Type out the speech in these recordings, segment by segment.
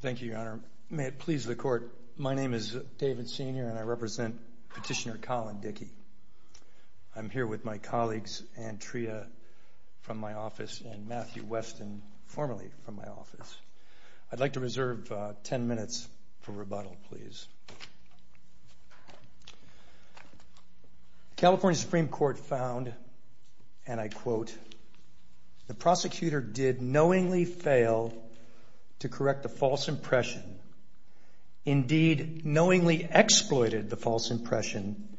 Thank you, Your Honor. May it please the Court, my name is David Senior and I represent Petitioner Colin Dickey. I'm here with my colleagues, Anne Tria from my office and Matthew Weston, formerly from my office. I'd like to reserve ten minutes for rebuttal, please. The California Supreme Court found, and I quote, the prosecutor did knowingly fail to correct the false impression, indeed knowingly exploited the false impression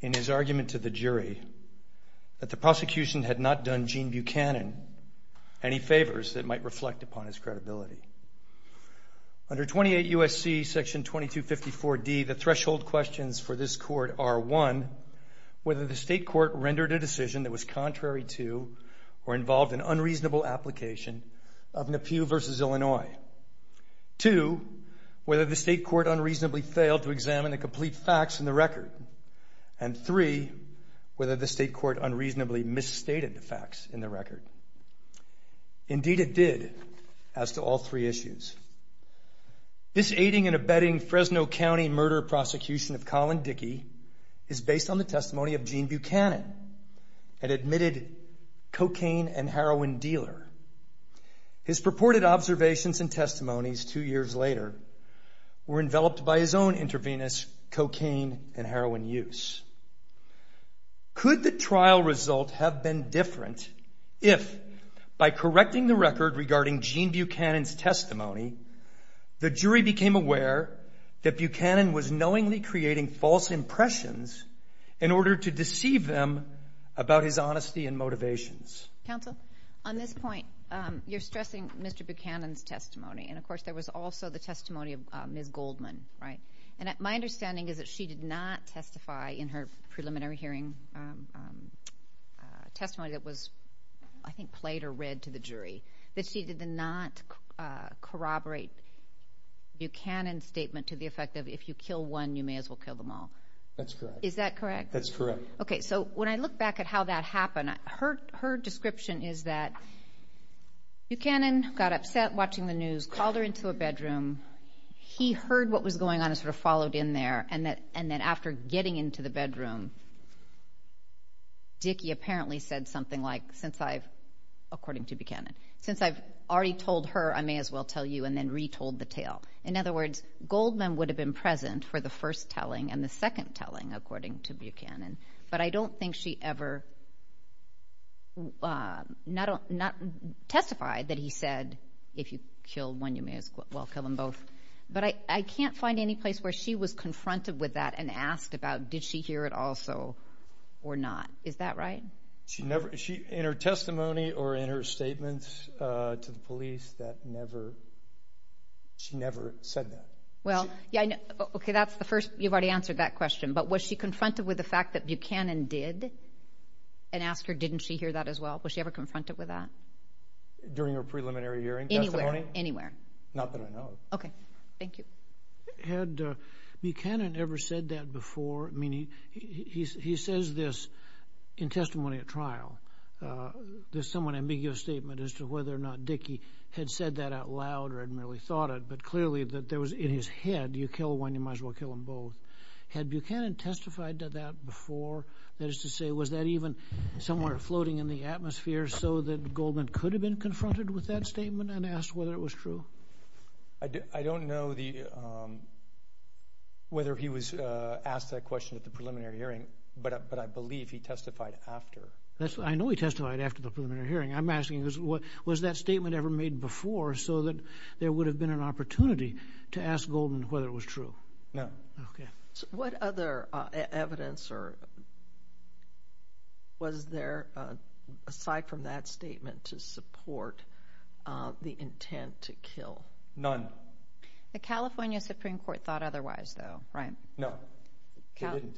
in his argument to the jury, that the prosecution had not done Gene Buchanan any favors that might reflect upon his credibility. Under 28 U.S.C. § 2254 D, the threshold questions for this Court are, one, whether the state court rendered a decision that was contrary to or involved an unreasonable application of Nephew v. Illinois. Two, whether the state court unreasonably failed to examine the complete facts in the record. And three, whether the state court unreasonably misstated the facts in the record. Indeed it did, as to all three issues. This aiding and abetting Fresno County murder prosecution of Colin Dickey is based on the testimony of Gene Buchanan, an admitted cocaine and heroin dealer. His purported observations and testimonies two years later were enveloped by his own intravenous cocaine and heroin use. Could the trial result have been different if, by correcting the record regarding Gene Buchanan's testimony, the jury became aware that Buchanan was knowingly creating false impressions in order to deceive them about his honesty and motivations? Counsel, on this point, you're stressing Mr. Buchanan's testimony, and of course there was also the testimony of Ms. Goldman, right? And my understanding is that she did not testify in her preliminary hearing testimony that was, I think, played or read to the jury, that she did not corroborate Buchanan's statement to the effect of, if you kill one, you may as well kill them all. That's correct. Is that correct? That's correct. Okay, so when I look back at how that happened, her description is that Buchanan got upset watching the news, called her into a bedroom, he heard what was going on and sort of followed in there, and that after getting into the bedroom, Dickey apparently said something like, since I've, according to Buchanan, since I've already told her, I may as well tell you, and then retold the tale. In other words, Goldman would have been present for the first telling and the second telling, according to her, not testify that he said, if you kill one, you may as well kill them both. But I can't find any place where she was confronted with that and asked about, did she hear it also or not? Is that right? She never, in her testimony or in her statements to the police, that never, she never said that. Well, yeah, okay, that's the first, you've already answered that question, but was she confronted with the fact that Buchanan did and asked her, didn't she hear that as well? Was she ever confronted with that? During her preliminary hearing? Anywhere, anywhere. Not that I know of. Okay, thank you. Had Buchanan ever said that before? I mean, he says this in testimony at trial, this somewhat ambiguous statement as to whether or not Dickey had said that out loud or had merely thought it, but clearly that there was in his head, you kill one, you might as well kill them both. Had Buchanan testified to that before, that is to say, was that even somewhere floating in the atmosphere so that Goldman could have been confronted with that statement and asked whether it was true? I don't know whether he was asked that question at the preliminary hearing, but I believe he testified after. I know he testified after the preliminary hearing. I'm asking, was that statement ever made before so that there would have been an opportunity to ask Goldman whether it was true? No. Okay, so what other evidence or was there aside from that statement to support the intent to kill? None. The California Supreme Court thought otherwise though, right? No, they didn't.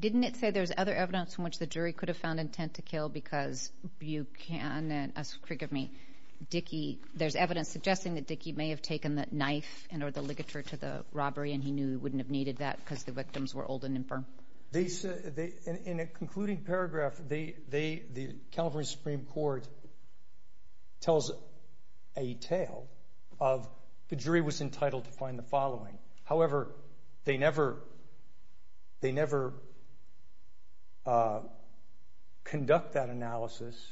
Didn't it say there's other evidence in which the jury could have found intent to kill because Buchanan, forgive me, Dickey, there's the ligature to the robbery and he knew he wouldn't have needed that because the victims were old and infirm. In a concluding paragraph, the California Supreme Court tells a tale of the jury was entitled to find the following. However, they never conduct that analysis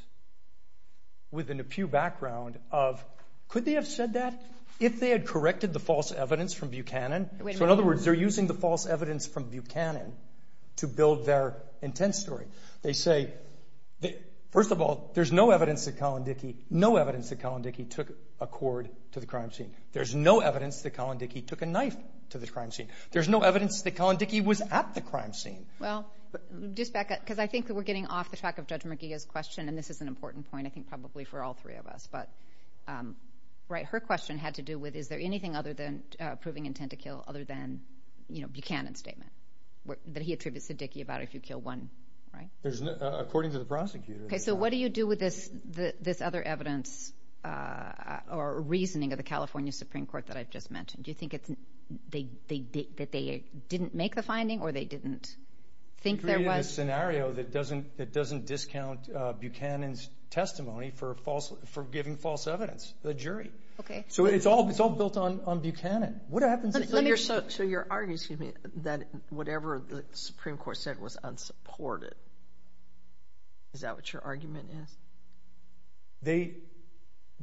within a pew background of, could they have said that if they had corrected the false evidence from Buchanan? So in other words, they're using the false evidence from Buchanan to build their intent story. They say, first of all, there's no evidence that Colin Dickey took a cord to the crime scene. There's no evidence that Colin Dickey took a knife to the crime scene. There's no evidence that Colin Dickey was at the crime scene. Well, just back up because I think we're getting off the track of Judge McGee's question and this is an important point, I think probably for all three of us, but right, her question had to do with, is there anything other than proving intent to kill other than Buchanan's statement that he attributes to Dickey about if you kill one, right? According to the prosecutor. Okay, so what do you do with this other evidence or reasoning of the California Supreme Court that I've just mentioned? Do you that doesn't discount Buchanan's testimony for giving false evidence to the jury? Okay. So it's all built on Buchanan. So you're arguing that whatever the Supreme Court said was unsupported. Is that what your argument is?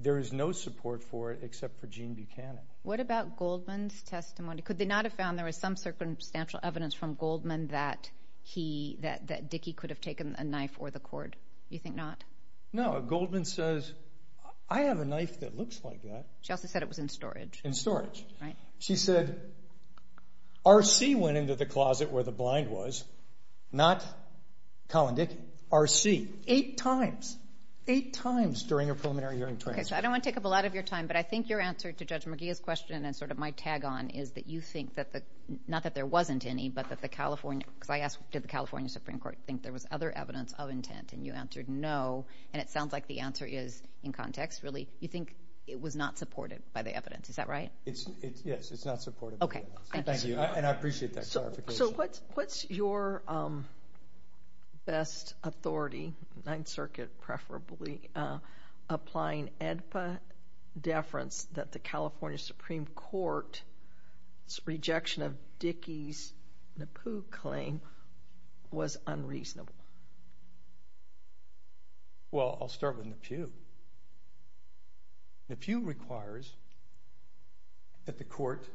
There is no support for it except for Gene Buchanan. What about Goldman's testimony? Could they not have found there was some circumstantial evidence from Goldman that he, that Dickey could have taken a knife or the cord? You think not? No, Goldman says, I have a knife that looks like that. She also said it was in storage. In storage. Right. She said, R.C. went into the closet where the blind was, not Colin Dickey, R.C. Eight times, eight times during a preliminary hearing. Okay, so I don't want to take up a lot of your time, but I think your answer to Judge McGee's question and sort of my tag on is that you think that the, not that there wasn't any, but that the California, if I asked did the California Supreme Court think there was other evidence of intent and you answered no, and it sounds like the answer is in context, really, you think it was not supported by the evidence. Is that right? It's, yes, it's not supported. Okay. Thank you. And I appreciate that clarification. So what's, what's your best authority, Ninth Circuit preferably, applying AEDPA deference that the California Supreme Court's rejection of Dickey's NAPU claim was unreasonable? Well, I'll start with NAPU. NAPU requires that the court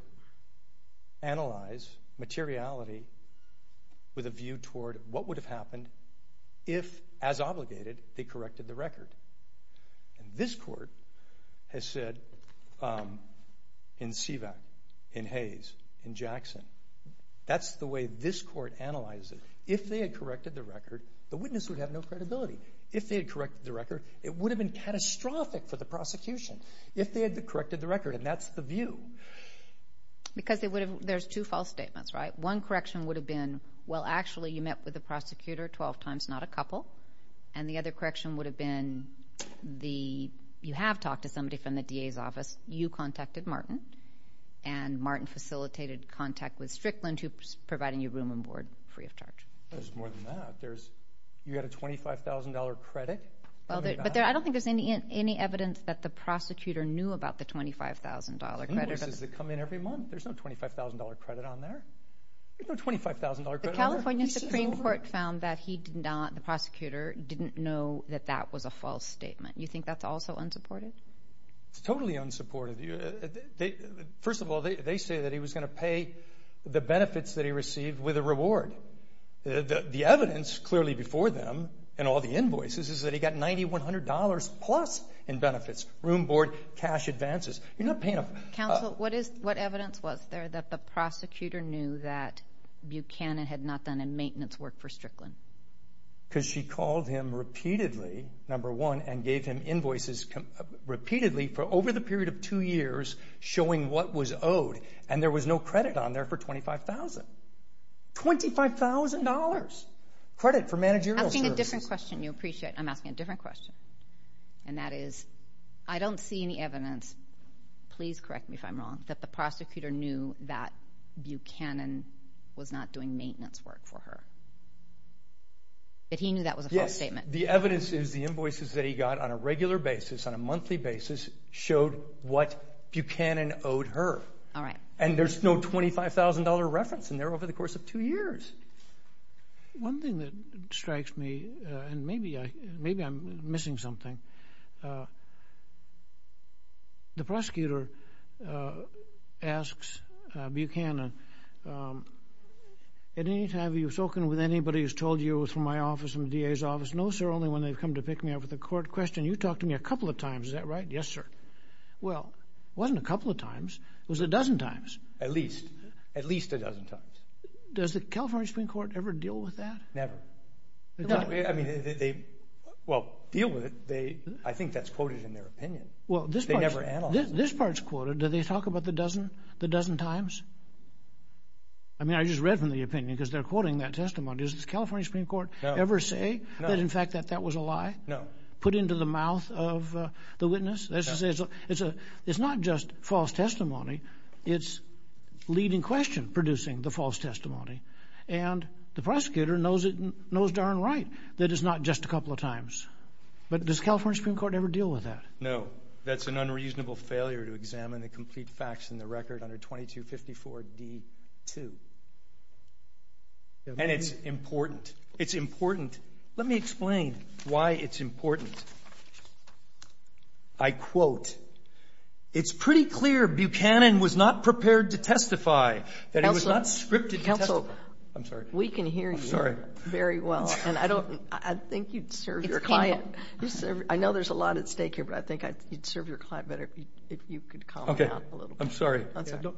analyze materiality with a view toward what would have happened if, as obligated, they corrected the record. And this court has said in SEVAC, in Hayes, in Jackson, that's the way this court analyzes it. If they had corrected the record, the witness would have no credibility. If they had corrected the record, it would have been catastrophic for the prosecution if they had corrected the record, and that's the view. Because it would have, there's two false statements, right? One correction would have been, well, actually, you met with the prosecutor 12 times, not a couple. And the other correction would have been the, you have talked to somebody from the DA's office, you contacted Martin, and Martin facilitated contact with Strickland, who's providing you room and board free of charge. There's more than that. There's, you had a $25,000 credit? But I don't think there's any, any evidence that the prosecutor knew about the $25,000 credit. Does it come in every month? There's no $25,000 credit on there. There's no $25,000 credit. California Supreme Court found that he did not, the prosecutor didn't know that that was a false statement. You think that's also unsupported? Totally unsupported. First of all, they say that he was going to pay the benefits that he received with a reward. The evidence, clearly before them, and all the invoices, is that he got $9,100 plus in benefits, room board, cash advances. You're not paying them. Counsel, what is, what evidence was there that the prosecutor knew that Buchanan had not done a maintenance work for Strickland? Because she called him repeatedly, number one, and gave him invoices repeatedly for over the period of two years showing what was owed, and there was no credit on there for $25,000. $25,000 credit for managerial service. I'm asking a different question. You appreciate I'm asking a different question, and that is, I don't see any evidence, please correct me if I'm wrong, that the prosecutor knew that Buchanan was not doing maintenance work for her. If he knew that was a false statement. The evidence is the invoices that he got on a regular basis, on a monthly basis, showed what Buchanan owed her, and there's no $25,000 reference in there over the course of two years. One thing that strikes me, and maybe I'm missing something, the prosecutor asks Buchanan, at any time have you spoken with anybody who's told you it was from my office and the DA's office? No sir, only when they've come to pick me up at the court question. You talked to me a couple of times, is that right? Yes sir. Well, it wasn't a couple of times, it was a dozen times. At least, at least a dozen times. Does the California Supreme Court ever deal with that? Never. I mean, they, well, deal with it, they, I think that's quoted in their opinion. Well, this part's quoted, do they talk about the dozen times? I mean, I just read from the opinion, because they're quoting that testimony. Does the California Supreme Court ever say that, in fact, that that was a lie? No. Put into the mouth of the witness? It's not just false testimony, it's leading question producing the false testimony, and the prosecutor knows it, knows darn right that it's not just a couple of times. But does California Supreme Court ever deal with that? No. That's an unreasonable failure to examine the complete facts in the record under 2254 D2. And it's important, it's important. Let me explain why it's important. I quote, it's pretty clear Buchanan was not prepared to testify, that it was not scripted. Counsel, we can hear you very well, and I don't, I think you'd serve your client, I know there's a lot at stake here, but I think you'd serve your client better if you could calm down a little. Okay, I'm sorry.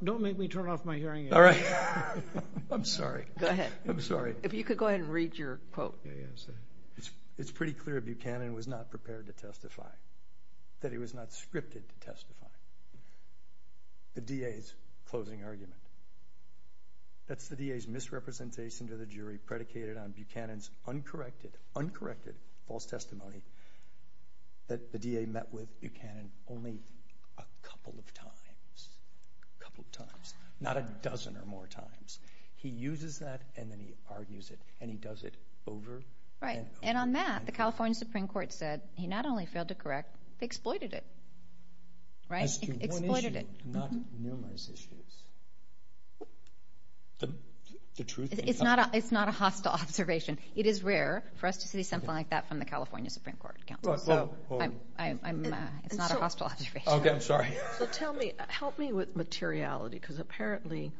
Don't make me turn off my hearing aid. All right. I'm sorry. Go ahead. I'm sorry. If you could go ahead and read your quote. It's pretty clear Buchanan was not prepared to testify, that it was not scripted to testify. The DA's closing argument. That's the DA's misrepresentation to the jury predicated on Buchanan's uncorrected, uncorrected false testimony that the DA met with Buchanan only a couple of times, a couple of times, not a dozen or more times. He uses that, and then he argues it, and he does it over and over. And on that, the California Supreme Court said he not only failed to correct, exploited it, right? It's not a hostile observation. It is rare for us to see something like that from the California Supreme Court. I'm not a hostile observer. Okay, I'm sorry. So tell me, help me with materiality, because apparently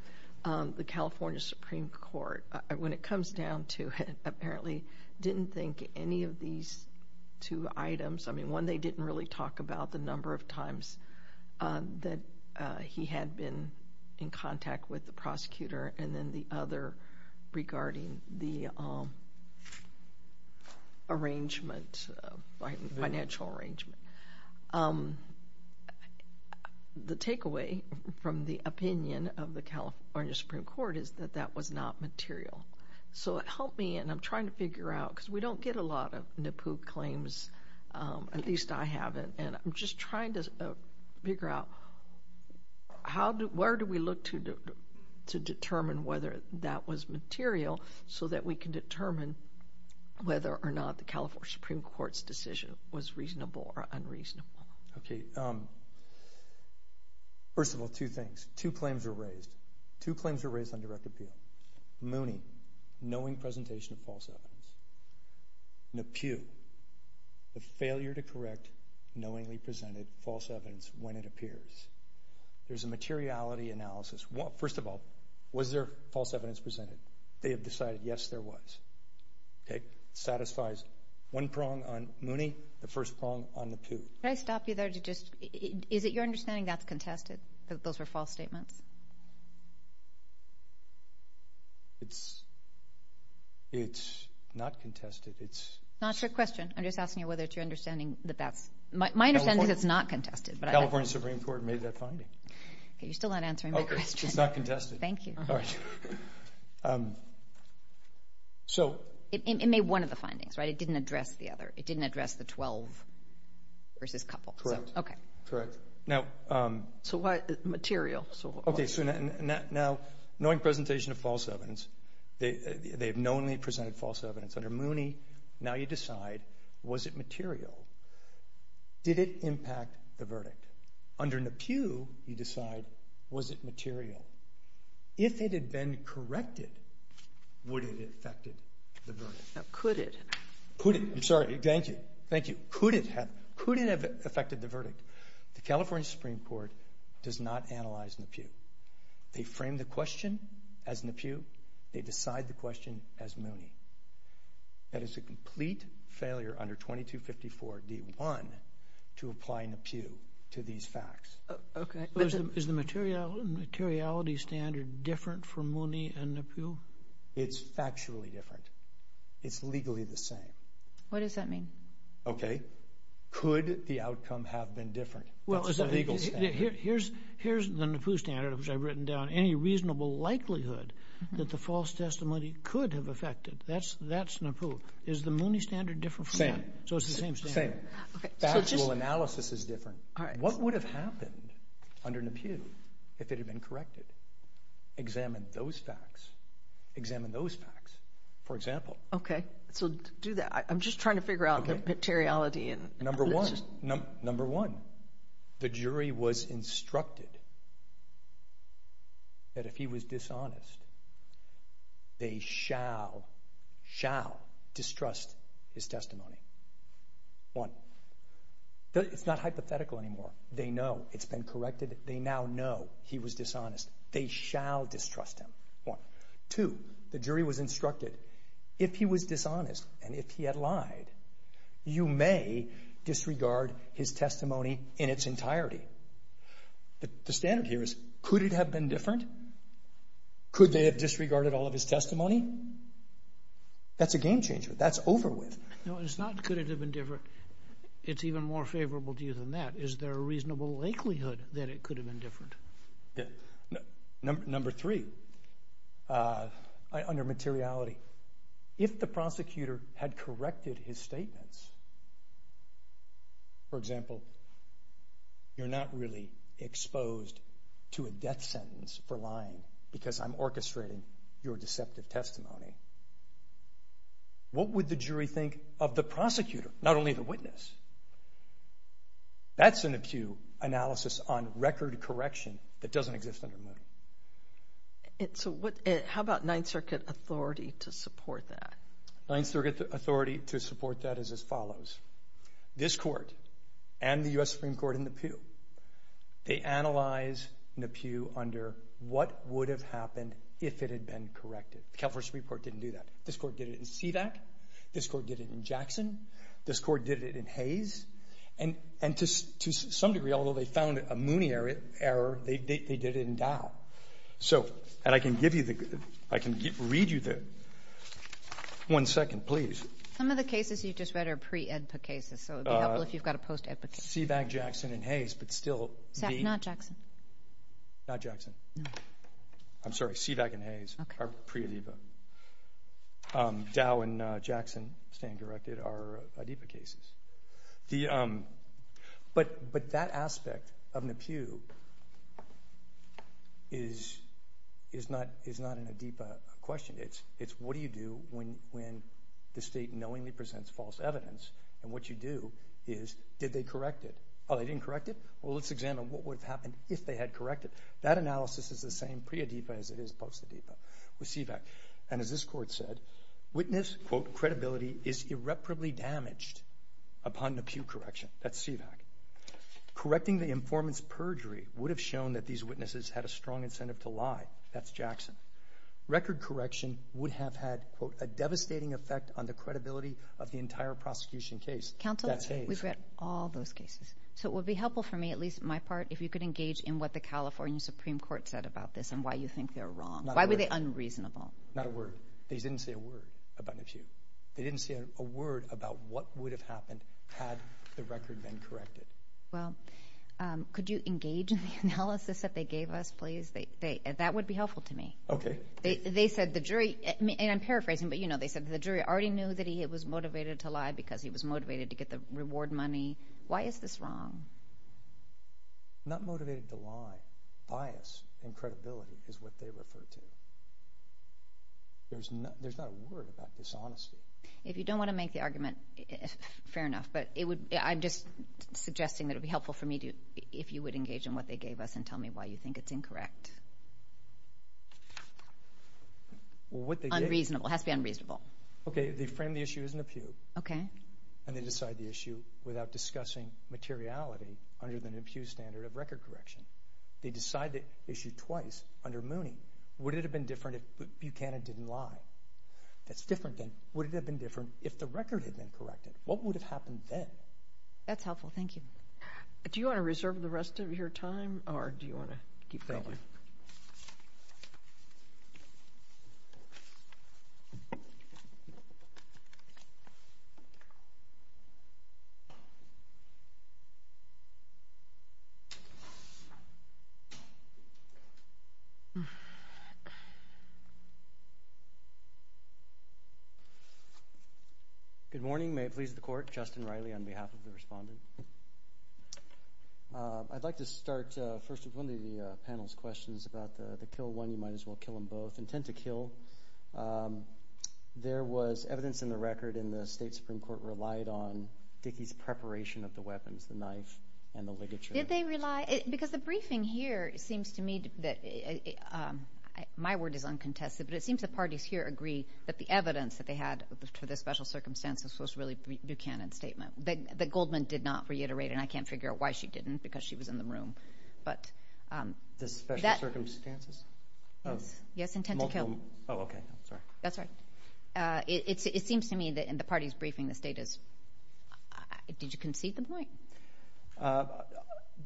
the California Supreme Court, when it comes down to, apparently didn't think any of these two items, I mean one they didn't really talk about the number of times that he had been in contact with the prosecutor, and then the other regarding the arrangement, financial arrangement. The takeaway from the opinion of the California Supreme Court is that that was not material. So help me, and I'm trying to figure out, because we don't get a lot of NAPU claims, at least I haven't, and I'm just trying to figure out how do, where do we look to determine whether that was material so that we can determine whether or not the California Supreme Court's decision was reasonable or unreasonable. Okay, first of all, two things. Two claims were raised on direct appeal. Mooney, knowing presentation of false evidence. NAPU, the failure to correct knowingly presented false evidence when it appears. There's a materiality analysis. Well, first of all, was there false evidence presented? They had decided yes, there was. Okay, satisfies one prong on Mooney, the first prong on NAPU. Can I stop you there to just, is it your understanding that's contested, that those are false statements? It's not contested. It's not your question. I'm just asking you whether it's your understanding that that's, my understanding is it's not contested. California Supreme Court made that finding. Okay, you're still not answering my question. Okay, it's not contested. Thank you. So it made one of the findings, right? It didn't address the other. It didn't address the 12 versus a couple. Correct. Okay. Correct. So what material? Okay, so now knowing presentation of false evidence, they had knowingly presented false evidence. Under Mooney, now you decide, was it material? Did it impact the verdict? Under NAPU, you decide, was it material? If it had been corrected, would it have affected the verdict? Could it? Could it? I'm sorry, thank you. Thank you. Could it have? Could it have affected the verdict? The California Supreme Court does not analyze NAPU. They frame the question as NAPU. They decide the question as Mooney. That is a complete failure under 2254 D1 to apply NAPU to these facts. Okay. Is the material, materiality standard different for Mooney and NAPU? It's factually different. It's legally the same. What does that mean? Okay. Could the outcome have been different? Well, here's the NAPU standard, which I've written down. Any reasonable likelihood that the false testimony could have affected, that's NAPU. Is the Mooney standard different for Mooney? Same. So it's the same standard. Same. Factual analysis is different. What would have happened under NAPU if it had been corrected? Examine those facts. Examine those facts, for example. Okay. So do that. I'm just trying to figure out the materiality. Number one, number one, the jury was instructed that if he was dishonest, they shall, shall distrust his testimony. One. It's not hypothetical anymore. They know it's been corrected. They now know he was dishonest. They shall distrust him. One. Two, the jury was instructed if he was dishonest and if he had lied, you may disregard his testimony in its entirety. The standard here is, could it have been different? Could they have disregarded all of his testimony? That's a game changer. That's over with. No, it's not could it have been different. It's even more favorable to you than that. Is there a reasonable likelihood that it could have been different? Number three, under materiality, if the prosecutor had corrected his statements, for example, you're not really exposed to a death sentence for lying because I'm orchestrating your deceptive testimony. What would the jury think of the prosecutor, not only the witness? That's an NAPU analysis on record correction that doesn't exist under NAPU. And so how about Ninth Circuit authority to support that? Ninth Circuit authority to support that is as follows. This court and the U.S. Supreme Court and NAPU, they analyze NAPU under what would have happened if it had been corrected. The California Supreme Court didn't do that. This court did it in SEDAC. This court did it in Jackson. This court did it in Hayes. And to some degree, although they found a Mooney error, they did it in Dow. And I can give you the – I can read you the – one second, please. Some of the cases you just read are pre-EDPA cases, so it would be helpful if you've got a post-EDPA case. SEDAC, Jackson, and Hayes, but still the – Not Jackson. Not Jackson. I'm sorry, SEDAC and Hayes are pre-EDPA. Dow and Jackson, stand directed, are EDPA cases. But that aspect of NAPU is not an EDPA question. It's what do you do when the state knowingly presents false evidence, and what you do is, did they correct it? Oh, they didn't correct it? Well, let's examine what would have happened if they had corrected. That analysis is the same pre-EDPA as it is with SEDAC. And as this court said, witness, quote, credibility is irreparably damaged upon NAPU correction. That's SEDAC. Correcting the informant's perjury would have shown that these witnesses had a strong incentive to lie. That's Jackson. Record correction would have had, quote, a devastating effect on the credibility of the entire prosecution case. Counsel, we've read all those cases. So it would be helpful for me, at least my part, if you could engage in what the California Supreme Court said about this and why you think they're wrong. Why were they unreasonable? Not a word. They didn't say a word about NAPU. They didn't say a word about what would have happened had the record been corrected. Well, could you engage in the analysis that they gave us, please? That would be helpful to me. Okay. They said the jury, and I'm paraphrasing, but you know, they said the jury already knew that he was motivated to lie because he was motivated to get the reward money. Why is this referred to? There's not a word about this, honestly. If you don't want to make the argument, fair enough, but I'm just suggesting that it would be helpful for me if you would engage in what they gave us and tell me why you think it's incorrect. Unreasonable. It has to be unreasonable. Okay. They frame the issue as NAPU. Okay. And they decide the issue without discussing materiality under the NAPU standard of record correction. They decide the issue twice under Mooney. Would it have been different if Buchanan didn't lie? That's different than would it have been different if the record had been corrected? What would have happened then? That's helpful. Thank you. Do you want to reserve the rest of your time, or do you want to keep going? Okay. Good morning. May it please the court, Justin Riley on behalf of the respondent. I'd like to start first with one of the panel's questions about the kill one, you might as well kill them both. Intent to kill. There was evidence in the record in the state Supreme Court relied on Dickey's preparation of the weapons, the knife and the ligature. Did they rely? Because the briefing here, it seems to me that my word is uncontested, but it seems the parties here agree that the evidence that they had for the special circumstances was really Buchanan's statement. But Goldman did not reiterate it, and I can't figure out why she didn't, because she was in the room. It seems to me that in the party's briefing, did you concede the point?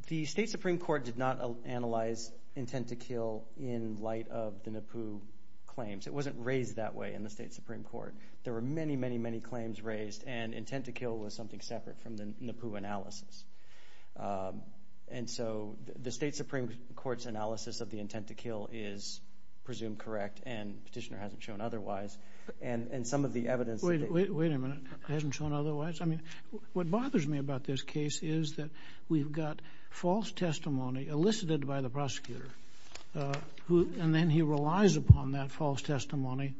The state Supreme Court did not analyze intent to kill in light of the NAPU claims. It wasn't raised that way in the state Supreme Court. There were many, many claims raised, and intent to kill was something separate from the NAPU analysis. And so the state Supreme Court's analysis of the intent to kill is presumed correct, and the petitioner hasn't shown otherwise. And some of the evidence... Wait a minute, hasn't shown otherwise? I mean, what bothers me about this case is that we've got false testimony elicited by the prosecutor, and then he relies upon that false testimony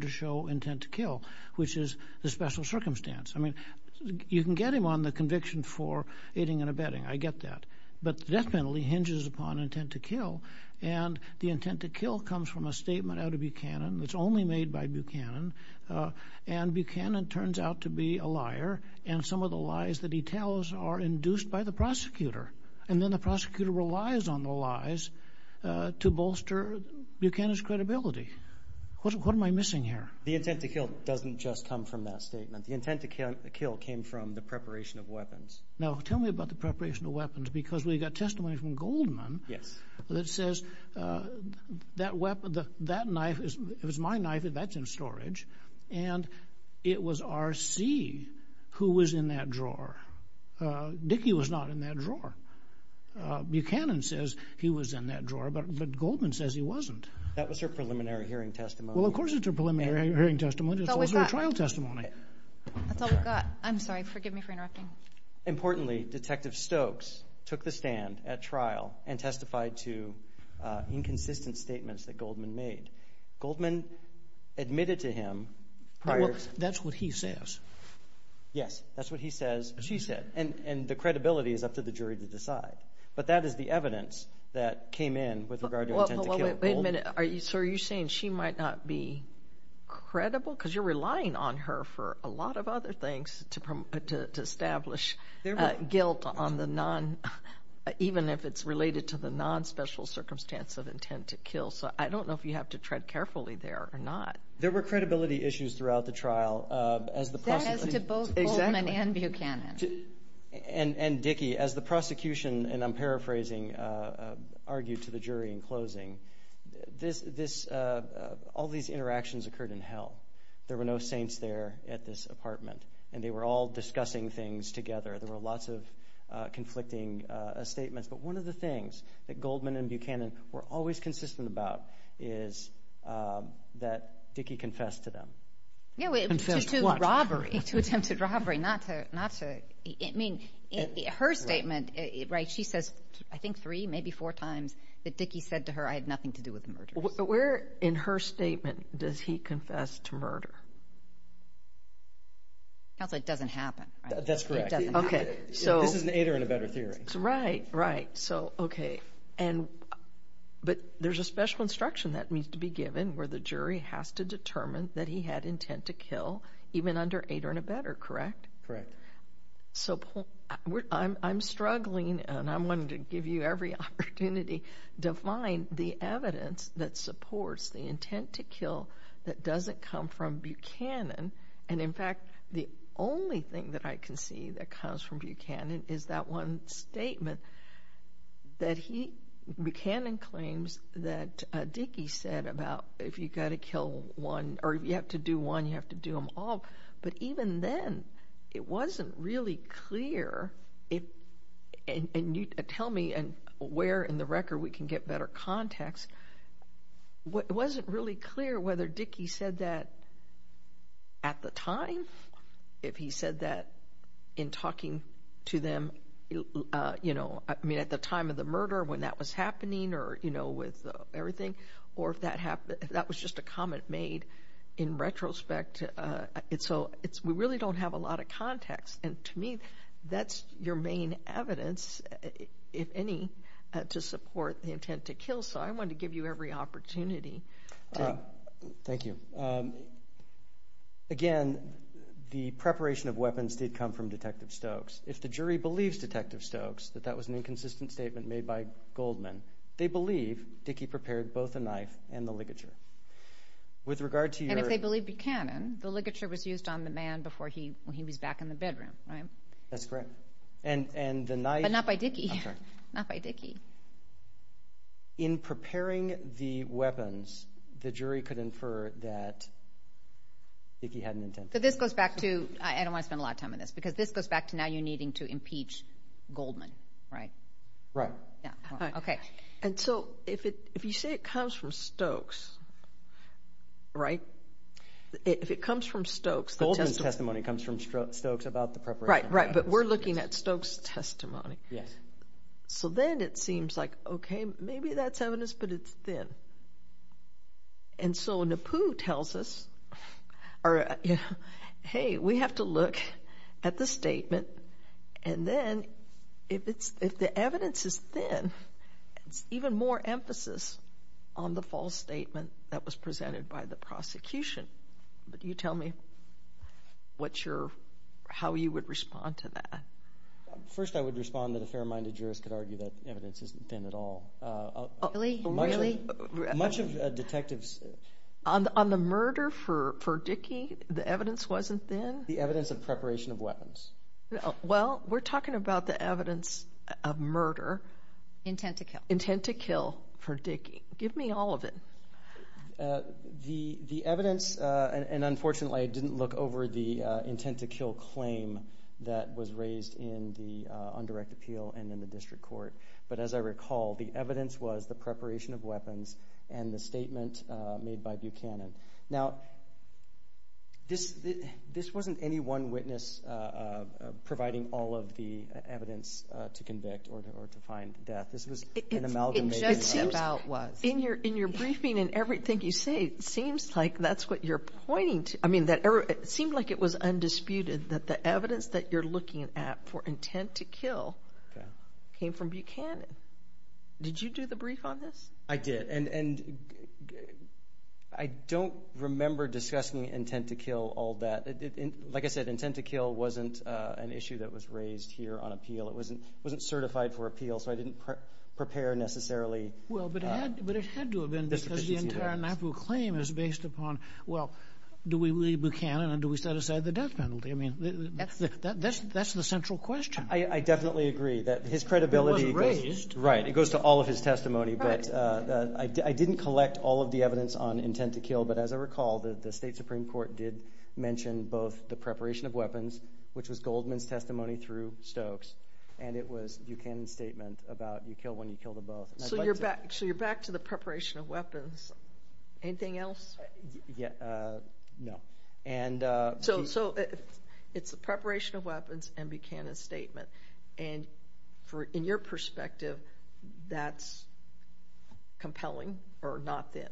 to show intent to kill, which is the special circumstance. I mean, you can get him on the conviction for aiding and abetting, I get that. But definitely hinges upon intent to kill, and the intent to kill comes from a statement out of Buchanan that's only made by Buchanan, and Buchanan turns out to be a liar, and some of the lies that he tells are induced by the prosecutor. And then the prosecutor relies on the lies to bolster Buchanan's credibility. What am I missing here? The intent to kill doesn't just come from that statement. The intent to kill came from the preparation of weapons. Now, tell me about the preparation of weapons, because we've got testimony from Goldman that says, that weapon, that knife, it was my knife, that's in storage, and it was R.C. who was in that drawer. Dickey was not in that drawer. Buchanan says he was in that drawer, but Goldman says he wasn't. That was her preliminary hearing testimony. Well, of course it's her preliminary hearing testimony. It's also a trial testimony. That's all we've got. I'm sorry, forgive me for interrupting. Importantly, Detective Stokes took the stand at trial and testified to inconsistent statements that Goldman made. Goldman admitted to him prior... That's what he says. Yes, that's what he says, she said, and the credibility is up to the jury to decide. But that is the issue. Are you saying she might not be credible? Because you're relying on her for a lot of other things to establish guilt, even if it's related to the non-special circumstance of intent to kill. I don't know if you have to tread carefully there or not. There were credibility issues throughout the trial. That has to both Goldman and Buchanan. And Dickey, as the prosecution, and I'm paraphrasing, argued to the jury in closing, all these interactions occurred in hell. There were no saints there at this apartment, and they were all discussing things together. There were lots of conflicting statements. But one of the things that Goldman and Buchanan were always consistent about is that Dickey confessed to them. No, it was a robbery. It's an attempted murder. She says, I think, three, maybe four times that Dickey said to her, I had nothing to do with the murder. Where in her statement does he confess to murder? It doesn't happen. That's correct. This is an eight or and a better theory. Right, right. But there's a special instruction that needs to be given where the jury has to determine that he had intent to kill, even under eight or and a better, correct? Correct. So I'm struggling, and I'm going to give you every opportunity to find the evidence that supports the intent to kill that doesn't come from Buchanan. And in fact, the only thing that I can see that comes from Buchanan is that one statement that Buchanan claims that Dickey said about if you've got to kill one, or if you have to do one, you have to do them all. But even then, it wasn't really clear. Tell me where in the record we can get better context. It wasn't really clear whether Dickey said that at the time, if he said that in talking to them at the time of the murder when that was happening or with everything, or if that was just a comment made in retrospect. So we really don't have a lot of context. And to me, that's your main evidence, if any, to support the intent to kill. So I want to give you every opportunity. Thank you. Again, the preparation of weapons did come from Detective Stokes. If the jury believes Detective Stokes that that was an inconsistent statement made by Goldman, they believe Dickey prepared both the knife and the ligature. And if they believe Buchanan, the ligature was used on the man before he was back in the bedroom. That's correct. But not by Dickey. In preparing the weapons, the jury could infer that Dickey had an intent. So this goes back to, I don't want to spend a lot of time on this, because this goes back to now you needing to impeach Goldman, right? Right. Okay. And so if you say it comes from Stokes, right? If it comes from Stokes... Goldman's testimony comes from Stokes about the preparation. Right, right. But we're looking at Stokes' testimony. So then it seems like, okay, maybe that's evidence, but it's thin. And so Napoo tells us, hey, we have to look at the statement, and then if the evidence is thin, even more emphasis on the false statement that was presented by the prosecution. But you tell me how you would respond to that. First, I would respond that a fair-minded jurist could argue that evidence isn't thin at all. Much of a detective's... On the murder for Dickey, the evidence wasn't thin? The evidence of preparation of weapons. Well, we're talking about the evidence of murder. Intent to kill. Intent to kill for Dickey. Give me all of it. The evidence, and unfortunately I didn't look over the intent to kill claim that was raised in the undirected appeal and in the district court. But as I recall, the evidence was the one witness providing all of the evidence to convict or to find death. In your briefing and everything you say, it seems like that's what you're pointing to. I mean, it seemed like it was undisputed that the evidence that you're looking at for intent to kill came from Buchanan. Did you do the brief on this? I did, and I don't remember discussing intent to kill all that. Like I said, intent to kill wasn't an issue that was raised here on appeal. It wasn't certified for appeal, so I didn't prepare necessarily. Well, but it had to have been, because the entire NACBU claim is based upon, well, do we leave Buchanan, and do we set aside the death penalty? I mean, that's the central question. I definitely agree that his credibility... It wasn't raised. Right. It goes to all of his testimony, but I didn't collect all of the evidence on intent to kill. But as I recall, the state supreme court did mention both the preparation of weapons, which was Goldman's testimony through Stokes, and it was Buchanan's statement about you kill when you kill to both. So you're back to the preparation of weapons. Anything else? Yeah. No. So it's the preparation of weapons and Buchanan's statement. And in your perspective, that's compelling or not then?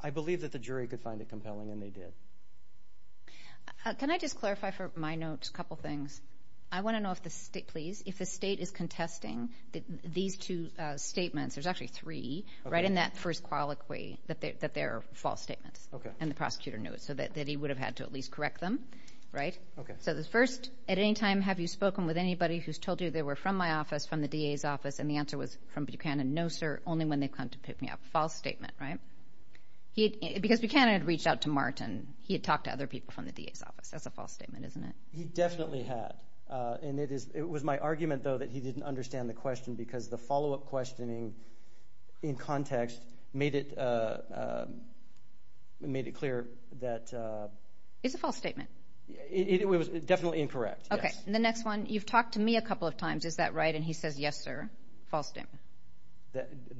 I believe that the jury could find it compelling, and they did. Can I just clarify for my notes a couple of things? I want to know if the state, please, if the state is contesting these two statements, there's actually three, right, in that first colloquy, that they're false statements, and the prosecutor knew it, so that he would have had to at least correct them, right? So the first, at any time, have you spoken with anybody who's told you they were from my office, from the DA's office, and the answer was from Buchanan, no, sir, only when they come to pick me up. False statement, right? Because Buchanan had reached out to Martin. He had talked to other people from the DA's office. That's a false statement, isn't it? He definitely had. And it was my argument, though, that he didn't understand the question, because the follow-up questioning in context made it clear that... It's a false statement. It was definitely incorrect, yes. And the next one, you've talked to me a couple of times, is that right? And he says, yes, sir, false statement.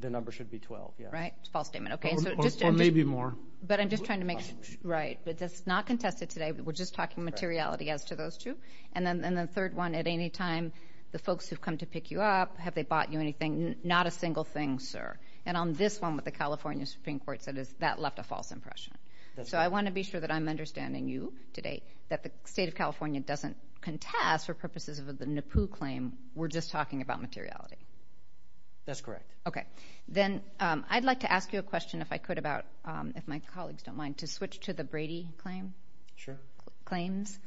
The number should be 12, yes. Right, false statement, okay. Or maybe more. But I'm just trying to make sure, right, that that's not contested today. We're just talking materiality as to those two. And then the third one, at any time, the folks who've come to pick you up, have they bought you anything? Not a single thing, sir. And on this one with the California Supreme Court, that left a false impression. So I want to be sure that I'm contesting, for purposes of the NAPU claim, we're just talking about materiality. That's correct. Okay. Then I'd like to ask you a question, if I could, about, if my colleagues don't mind, to switch to the Brady claim. Sure. Claims.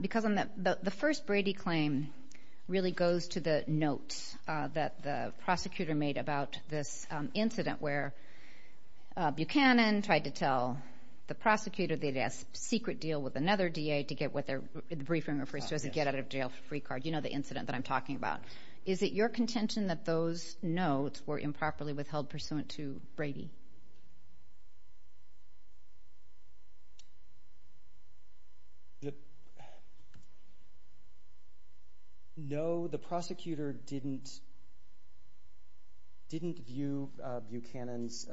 Because the first Brady claim really goes to the notes that the prosecutor made about this incident, where Buchanan tried to tell the prosecutor they had a secret deal with another DA to get what their briefing referred to as a get-out-of-jail-free card. You know the incident that I'm talking about. Is it your contention that those notes were improperly withheld pursuant to Brady? No, the prosecutor didn't view Buchanan's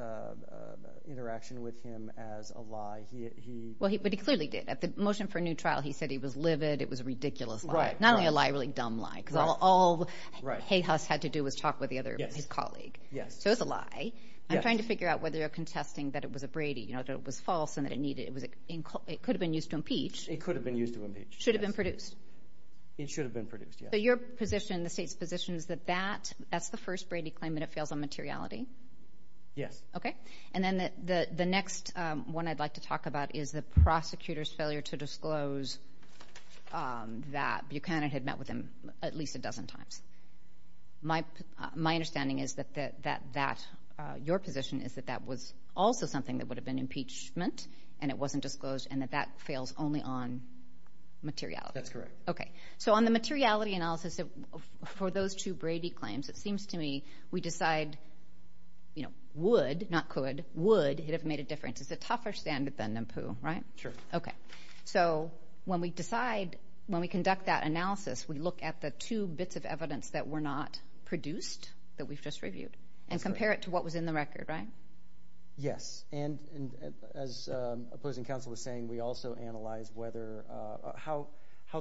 interaction with him as a lie. He... He said he was livid, it was a ridiculous lie. Not only a lie, a really dumb lie, because all Hayhuss had to do was talk with his colleague. So it's a lie. I'm trying to figure out whether you're contesting that it was a Brady, you know, that it was false, and that it needed... It could have been used to impeach. It could have been used to impeach. Should have been produced. It should have been produced, yes. So your position, the state's position, is that that's the first Brady claim, and it fails on materiality? Yes. Okay. And then the next one I'd like to talk about is the prosecutor's failure to disclose that Buchanan had met with him at least a dozen times. My understanding is that your position is that that was also something that would have been impeachment, and it wasn't disclosed, and that that fails only on materiality. That's correct. Okay. So on the materiality analysis for those two Brady claims, it seems to me we decide, you know, would, not could, would it have made a difference. It's a tougher stand than the poo, right? Sure. Okay. So when we decide, when we conduct that analysis, we look at the two bits of evidence that were not produced, that we've just reviewed, and compare it to what was in the record, right? Yes. And as opposing counsel was saying, we also analyze whether, how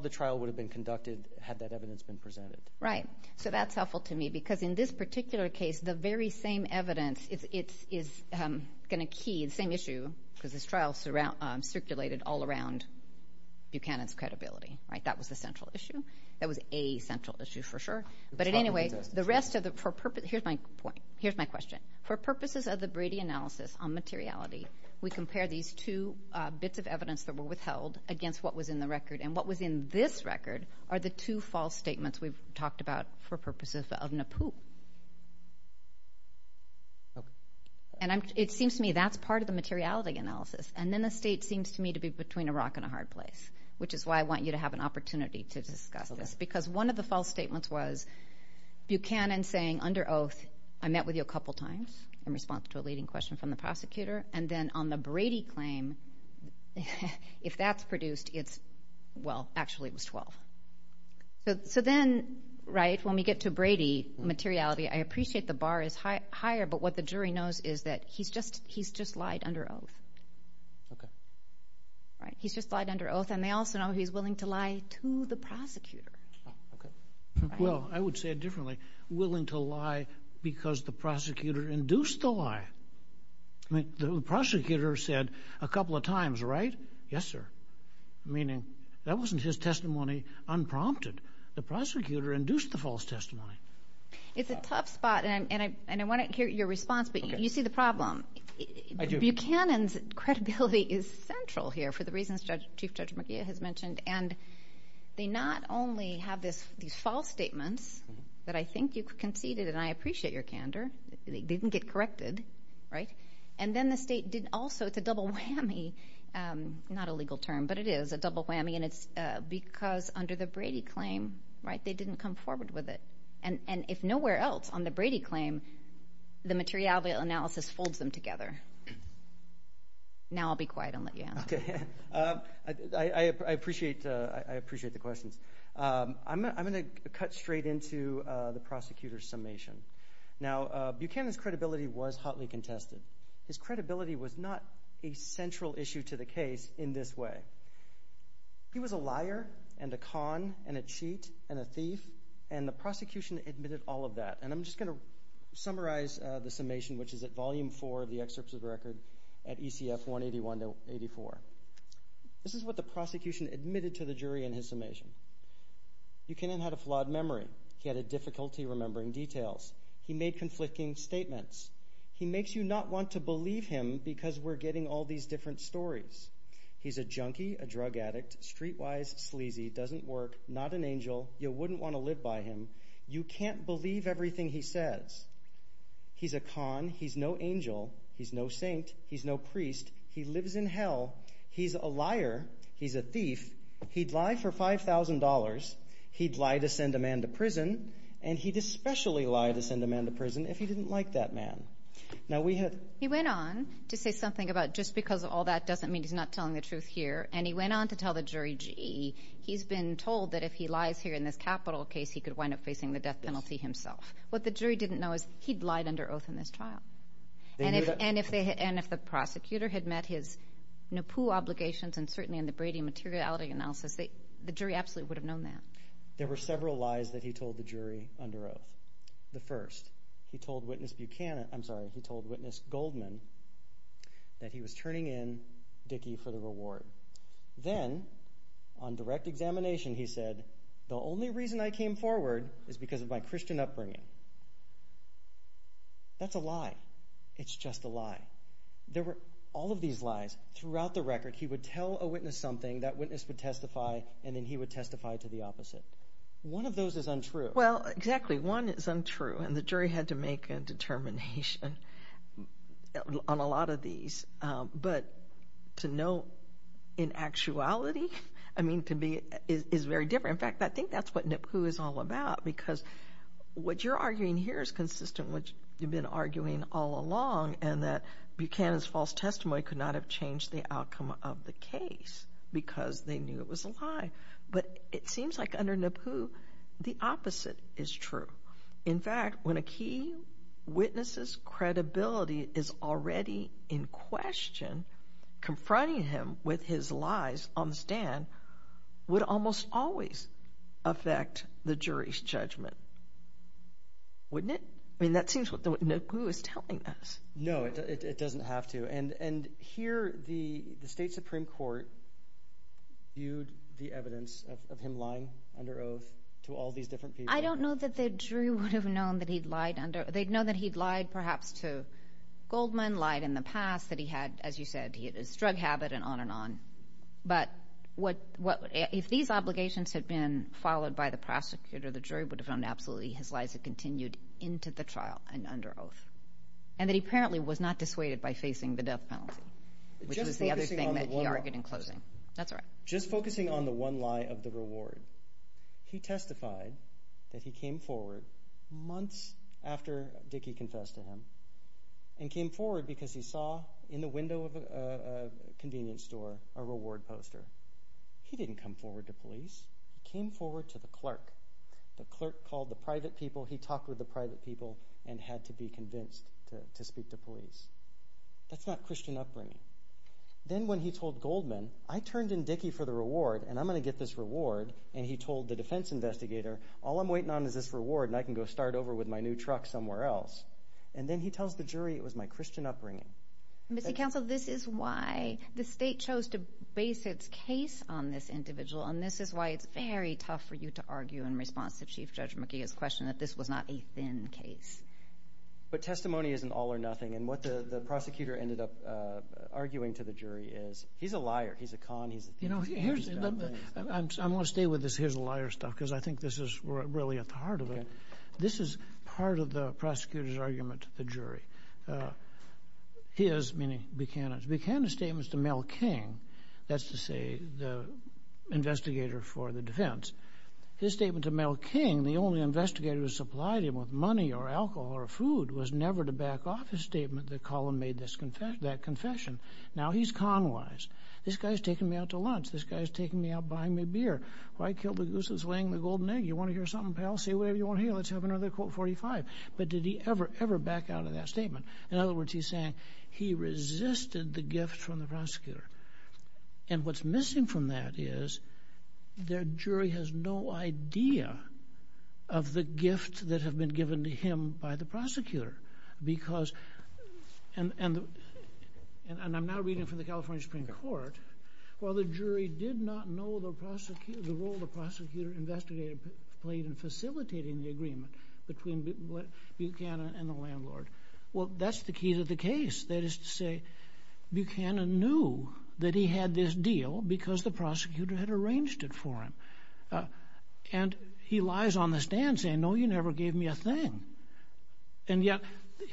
the trial would have been conducted had that evidence been presented. Right. So that's helpful to me, because in this particular case, the very same evidence is going to key, the same issue, because this trial circulated all around Buchanan's credibility, right? That was a central issue. That was a central issue for sure. But at any rate, the rest of the, for purpose, here's my point, here's my question. For purposes of the Brady analysis on materiality, we compare these two bits of evidence that were withheld against what was in the record, and what was in this record are the two false statements we've talked about for purposes of NAPU. And it seems to me that's part of the materiality analysis. And then the state seems to me to be between a rock and a hard place, which is why I want you to have an opportunity to discuss this, because one of the false statements was Buchanan saying, under oath, I met with you a couple times in response to a leading question from the prosecutor. And then on the Brady claim, if that's produced, it's, well, actually it was 12. So then, right, when we get to Brady, materiality, I appreciate the bar is higher, but what the jury knows is that he's just, he's just lied under oath. Okay. Right. He's just lied under oath, and they also know he's willing to lie to the prosecutor. Okay. Well, I would say it differently, willing to lie because the prosecutor induced the lie. I mean, the prosecutor said a couple of times, right? Yes, sir. Meaning that wasn't his testimony unprompted. The prosecutor induced the false testimony. It's a tough spot. And I want to hear your response, but you see the problem. Buchanan's credibility is central here for the reasons Judge, Chief Judge McGee has mentioned. And they not only have this, these false statements that I think you conceded, and I appreciate your candor, they didn't get corrected. Right. And then the state did also, it's a double whammy, not a legal term, but it is a double whammy. And it's because under the and it's nowhere else on the Brady claim, the materiality analysis folds them together. Now I'll be quiet and let you answer. Okay. I appreciate the question. I'm going to cut straight into the prosecutor's summation. Now, Buchanan's credibility was hotly contested. His credibility was not a central issue to the case in this way. He was a liar and a con and a thief. And the prosecution admitted all of that. And I'm just going to summarize the summation, which is at volume four of the excerpts of record at ECF 181 to 84. This is what the prosecution admitted to the jury in his summation. Buchanan had a flawed memory. He had a difficulty remembering details. He made conflicting statements. He makes you not want to believe him because we're getting all these different stories. He's a junkie, a drug addict, streetwise sleazy, doesn't work, not an angel. You wouldn't want to live by him. You can't believe everything he says. He's a con. He's no angel. He's no saint. He's no priest. He lives in hell. He's a liar. He's a thief. He'd lie for $5,000. He'd lie to send a man to prison. And he'd especially lie to send a man to prison if he didn't like that man. Now, we had... He went on to say something about just because all that doesn't mean he's not telling the truth here. And he went on to tell the jury, gee, he's been told that if he lies here in this capital case, he could wind up facing the death penalty himself. What the jury didn't know is he'd lied under oath in this trial. And if the prosecutor had met his NAPU obligations and certainly in the Brady materiality analysis, the jury actually would have known that. There were several lies that he told the jury under oath. The first, he told witness Buchanan, I'm sorry, he told witness Goldman that he was turning in Dickey for the reward. Then, on direct examination, he said, the only reason I came forward is because of my Christian upbringing. That's a lie. It's just a lie. There were all of these lies. Throughout the record, he would tell a witness something, that witness would testify, and then he would testify to the opposite. One of those is untrue. Well, exactly. One is untrue. And the jury had to make a on a lot of these. But to know in actuality, I mean, can be is very different. In fact, I think that's what NAPU is all about. Because what you're arguing here is consistent with you've been arguing all along, and that Buchanan's false testimony could not have changed the outcome of the case, because they knew it was a lie. But it seems like under NAPU, the opposite is true. In fact, when a key witness's credibility is already in question, confronting him with his lies on the stand would almost always affect the jury's judgment. Wouldn't it? I mean, that seems what NAPU is telling us. No, it doesn't have to. And here, the state Supreme Court viewed the evidence of him lying under oath to all these different people. I don't know that the jury would have known that he'd lied under. They'd know that he'd lied, perhaps, to Goldman, lied in the past, that he had, as you said, he had his drug habit, and on and on. But if these obligations had been followed by the prosecutor, the jury would have known absolutely his lies had continued into the trial and under oath. And that he apparently was not dissuaded by facing the death penalty, which was the other thing that he argued in closing. That's all right. Just focusing on the one lie of the reward, he testified that he came forward months after Dickey confessed to him and came forward because he saw in the window of a convenience store a reward poster. He didn't come forward to police. He came forward to the clerk. The clerk called the private people. He talked with the private people and had to be convinced to speak to police. That's not Christian upbringing. Then when he told Goldman, I turned in Dickey for the reward, and I'm going to get this reward, and he told the defense investigator, all I'm waiting on is this reward, and I can go start over with my new truck somewhere else. And then he tells the jury it was my Christian upbringing. Mr. Counsel, this is why the state chose to base its case on this individual, and this is why it's very tough for you to argue in response to Chief Judge McKee's question that this was not a thin case. But testimony isn't all or nothing, and what the prosecutor ended up arguing to the jury is he's a liar. He's a con. I'm going to stay with this here's a liar stuff because I think this is really at the heart of it. This is part of the prosecutor's argument to the jury. His, meaning Buchanan's, Buchanan's statement to Mel King, that's to say the investigator for the defense. This statement to Mel King, the only investigator who supplied him with money or his statement, the column made that confession. Now he's con-wise. This guy's taking me out to lunch. This guy's taking me out buying me beer. Why kill the goose that's laying the golden egg? You want to hear something, pal? Say whatever you want. Hey, let's have another quote 45. But did he ever, ever back out of that statement? In other words, he's saying he resisted the gift from the prosecutor, and what's missing from that is the jury has no idea of the gift that had been given to him by the prosecutor. Because, and I'm now reading from the California Supreme Court, while the jury did not know the role the prosecutor investigated played in facilitating the agreement between Buchanan and the landlord. Well, that's the key to the case. That is to say, Buchanan knew that he had this deal because the prosecutor had arranged it for him. And he lies on the stand saying, no, you never gave me a thing. And yet,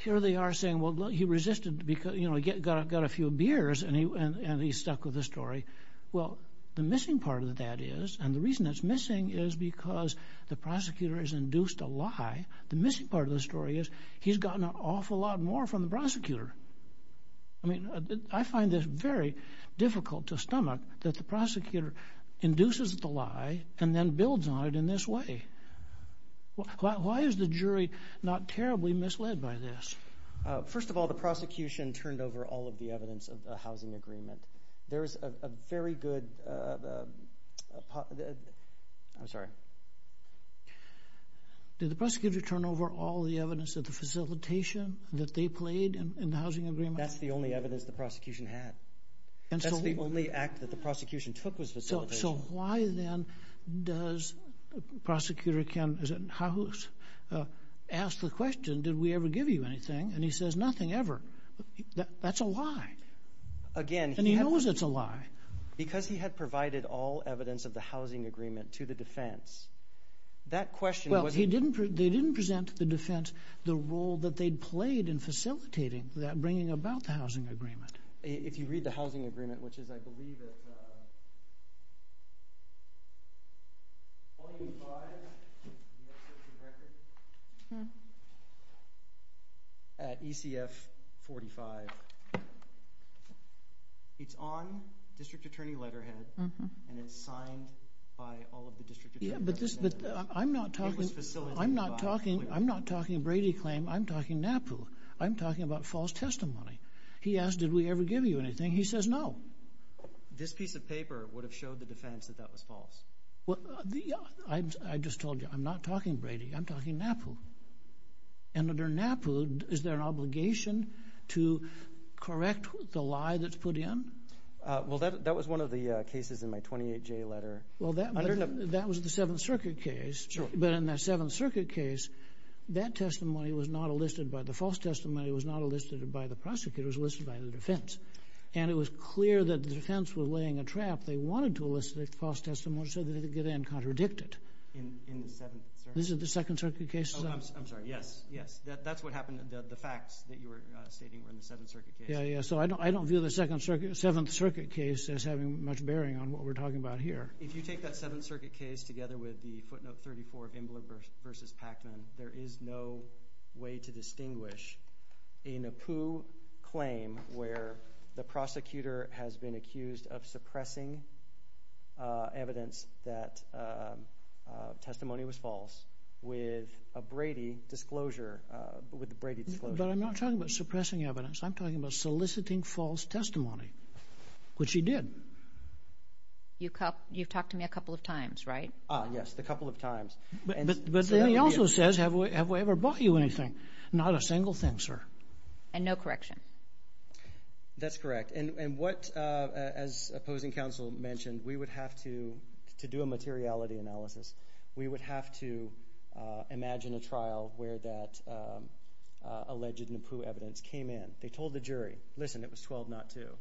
here they are saying, well, he resisted because, you know, he got a few beers and he stuck with the story. Well, the missing part of that is, and the reason it's missing is because the prosecutor has induced a lie. The missing part of the story is he's gotten an awful lot more from the prosecutor. I mean, I find it very difficult to stomach that the prosecutor induces the lie and then builds on it in this way. Why is the jury not terribly misled by this? First of all, the prosecution turned over all of the evidence of the housing agreement. There's a very good, I'm sorry. Did the prosecutor turn over all the evidence of the facilitation that they played in the housing agreement? That's the only evidence the prosecution had. That's the only act that the prosecution took was facilitation. So why then does the prosecutor ask the question, did we ever give you anything? And he says, nothing ever. That's a lie. And he knows it's a lie. Because he had provided all evidence of the housing agreement to the defense. That question... Well, they didn't present to the defense the role that they'd played in facilitating that bringing about the housing agreement. If you read the housing agreement, which is, I believe it's on District Attorney letterhead and it's signed by all of the I'm talking about false testimony. He asked, did we ever give you anything? He says, no. This piece of paper would have showed the defense that that was false. I just told you, I'm not talking Brady. I'm talking NAPU. And under NAPU, is there an obligation to correct the lie that's put in? Well, that was one of the cases in my 28J letter. Well, that was the Seventh Circuit case. But in the Seventh Circuit case, that testimony was not elicited by the false testimony. It was not elicited by the prosecutors, it was elicited by the defense. And it was clear that the defense was laying a trap. They wanted to elicit false testimony so that they could get in and contradict it. This is the Second Circuit case? I'm sorry. Yes. Yes. That's what happened. The facts that you were stating were in the Seventh Circuit case. Yeah, yeah. So I don't view the Seventh Circuit case as having much bearing on what we're talking about here. If you take that Seventh Circuit case together with the footnote 34, Gimbeler v. Packman, there is no way to distinguish a NAPU claim where the prosecutor has been accused of suppressing evidence that testimony was false with a Brady disclosure. But I'm not talking about suppressing evidence, I'm talking about soliciting false testimony, which he did. You've talked to me a couple of times, right? Yes, a couple of times. But then he also says, have we ever bought you anything? Not a single thing, sir. And no correction. That's correct. And what, as opposing counsel mentioned, we would have to do a materiality analysis. We would have to imagine a trial where that alleged NAPU evidence came in. They told the jury, listen, it was 1202.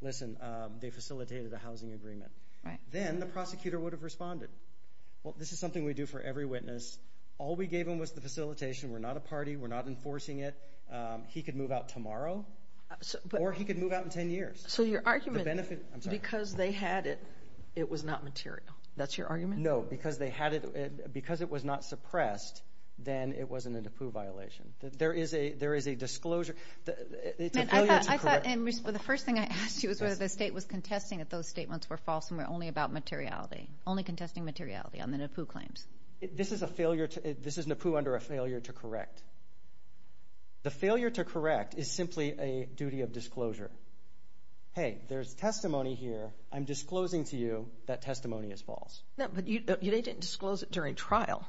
Listen, they facilitated a housing agreement. Then the prosecutor would have responded. Well, this is something we do for every witness. All we gave him was the facilitation. We're not a party. We're not enforcing it. He could move out tomorrow, or he could move out in 10 years. So your argument is because they had it, it was not material. That's your argument? No, because they had it, because it was not suppressed, then it wasn't a NAPU violation. There is a disclosure. I thought, and the first thing I asked you was whether the state was contesting that those statements were false and were only about materiality, only contesting materiality on the NAPU claims. This is NAPU under a failure to correct. The failure to correct is simply a duty of disclosure. Hey, there's testimony here. I'm disclosing to you that testimony is false. No, but they didn't disclose it during trial.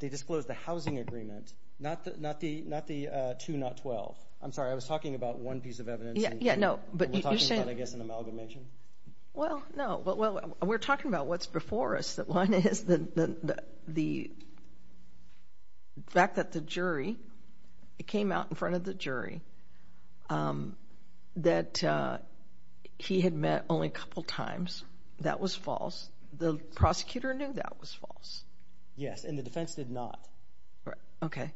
They disclosed the housing agreement, not the 2, not 12. I'm sorry, I was talking about one piece of evidence. Yeah, no, but you're saying- I'm talking about, I guess, an amalgamation. Well, no. We're talking about what's before us. The fact that the jury, it came out in front of the jury that he had met only a couple times, that was false. The prosecutor knew that was false. Yes, and the defense did not. Okay,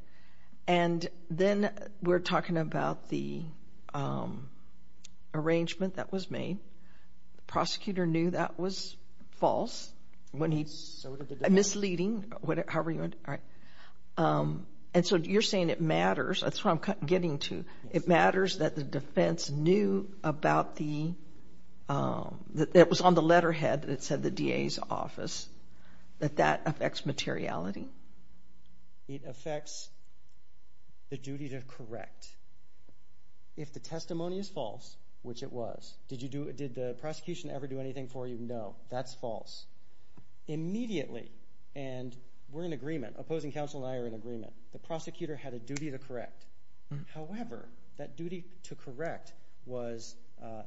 and then we're talking about the arrangement that was made. The prosecutor knew that was false when he, misleading, however you want to, all right, and so you're saying it matters. That's what I'm getting to. It matters that the defense knew about the, that it was on the letterhead that said the DA's office, but that affects materiality. It affects the duty to correct. If the testimony is false, which it was, did you do, did the prosecution ever do anything for you? No, that's false. Immediately, and we're in agreement, opposing counsel and I are in agreement, the prosecutor had a duty to correct. However, that duty to correct was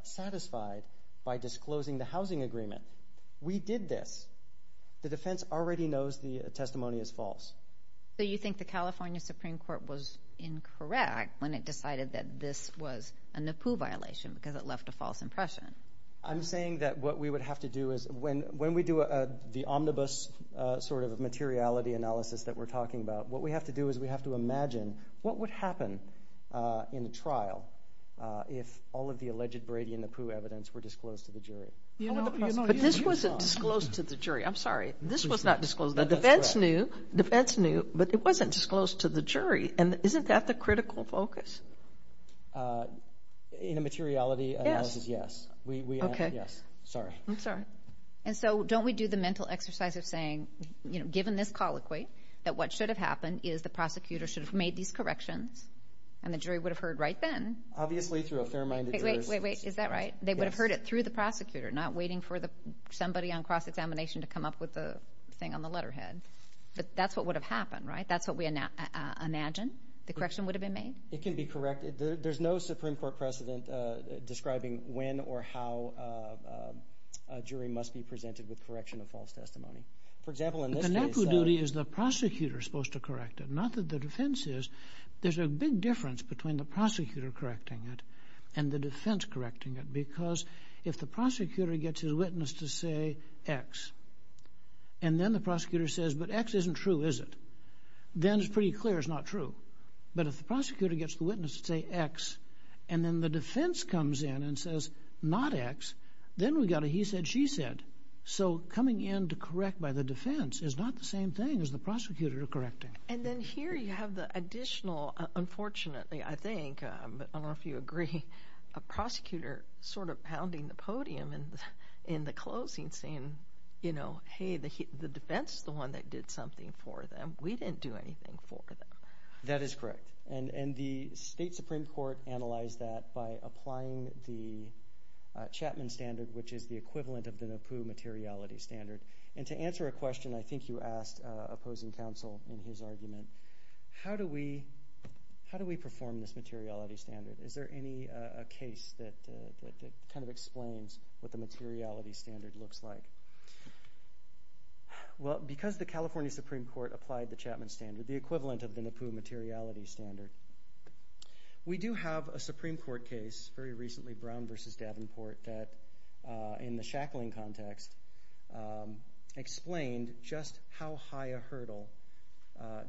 satisfied by disclosing the housing agreement. We did this. The defense already knows the testimony is false. So you think the California Supreme Court was incorrect when it decided that this was a NAPU violation because it left a false impression? I'm saying that what we would have to do is, when we do the omnibus sort of materiality analysis that we're talking about, what we have to do is we have to imagine what would happen in trial if all of the this wasn't disclosed to the jury. I'm sorry. This was not disclosed. The defense knew, the defense knew, but it wasn't disclosed to the jury. And isn't that the critical focus? In a materiality analysis, yes. We, we, yes. Sorry. I'm sorry. And so don't we do the mental exercise of saying, you know, given this colloquy, that what should have happened is the prosecutor should have made these corrections and the jury would have heard right then. Obviously through a fair-minded. Wait, wait, wait. Is that right? They would have heard it through the prosecutor, not waiting for the, somebody on cross-examination to come up with the thing on the letterhead. But that's what would have happened, right? That's what we imagined. The correction would have been made? It can be corrected. There's no Supreme Court precedent describing when or how a jury must be presented with correction of false testimony. For example, in this case. The NAPU duty is the prosecutor supposed to correct it, not that the defense is. There's a big difference between the prosecutor correcting it and the defense correcting it. Because if the prosecutor gets his witness to say X, and then the prosecutor says, but X isn't true, is it? Then it's pretty clear it's not true. But if the prosecutor gets the witness to say X, and then the defense comes in and says not X, then we got a he said, she said. So coming in to correct by the defense is not the same thing as the prosecutor correcting. And then here you have the additional, unfortunately, I think, but I don't know if you agree, a prosecutor sort of pounding the podium and in the closing saying, you know, hey, the defense is the one that did something for them. We didn't do anything for them. That is correct. And the state Supreme Court analyzed that by applying the Chapman standard, which is the equivalent of the NAPU materiality standard. And to answer a question, I think you asked opposing counsel in his argument, how do we, how do we perform this materiality standard? Is there any case that kind of explains what the materiality standard looks like? Well, because the California Supreme Court applied the Chapman standard, the equivalent of the NAPU materiality standard, we do have a Supreme Court case very recently, Brown versus Davenport that in the shackling context explained just how high a hurdle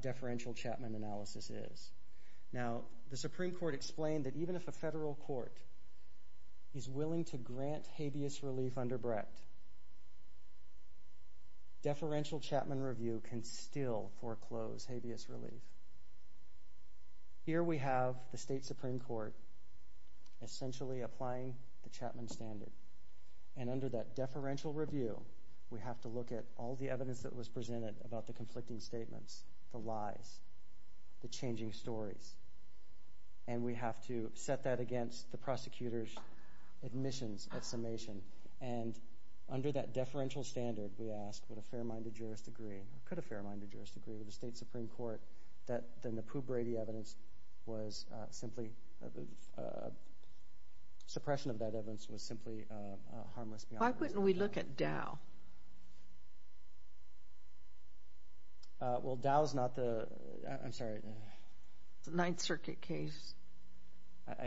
deferential Chapman analysis is. Now, the Supreme Court explained that even if a federal court is willing to grant habeas relief under Brett, deferential Chapman review can still foreclose habeas relief. Here we have the state Supreme Court essentially applying the Chapman standard. And under that deferential review, we have to look at all the evidence that was presented about the conflicting statements, the lie, the changing story. And we have to set that against the prosecutor's admissions exclamation. And under that deferential standard, we asked for the NAPU Brady evidence was simply, suppression of that evidence was simply harmless. Why couldn't we look at Dow? Well, Dow's not the, I'm sorry. Ninth Circuit case.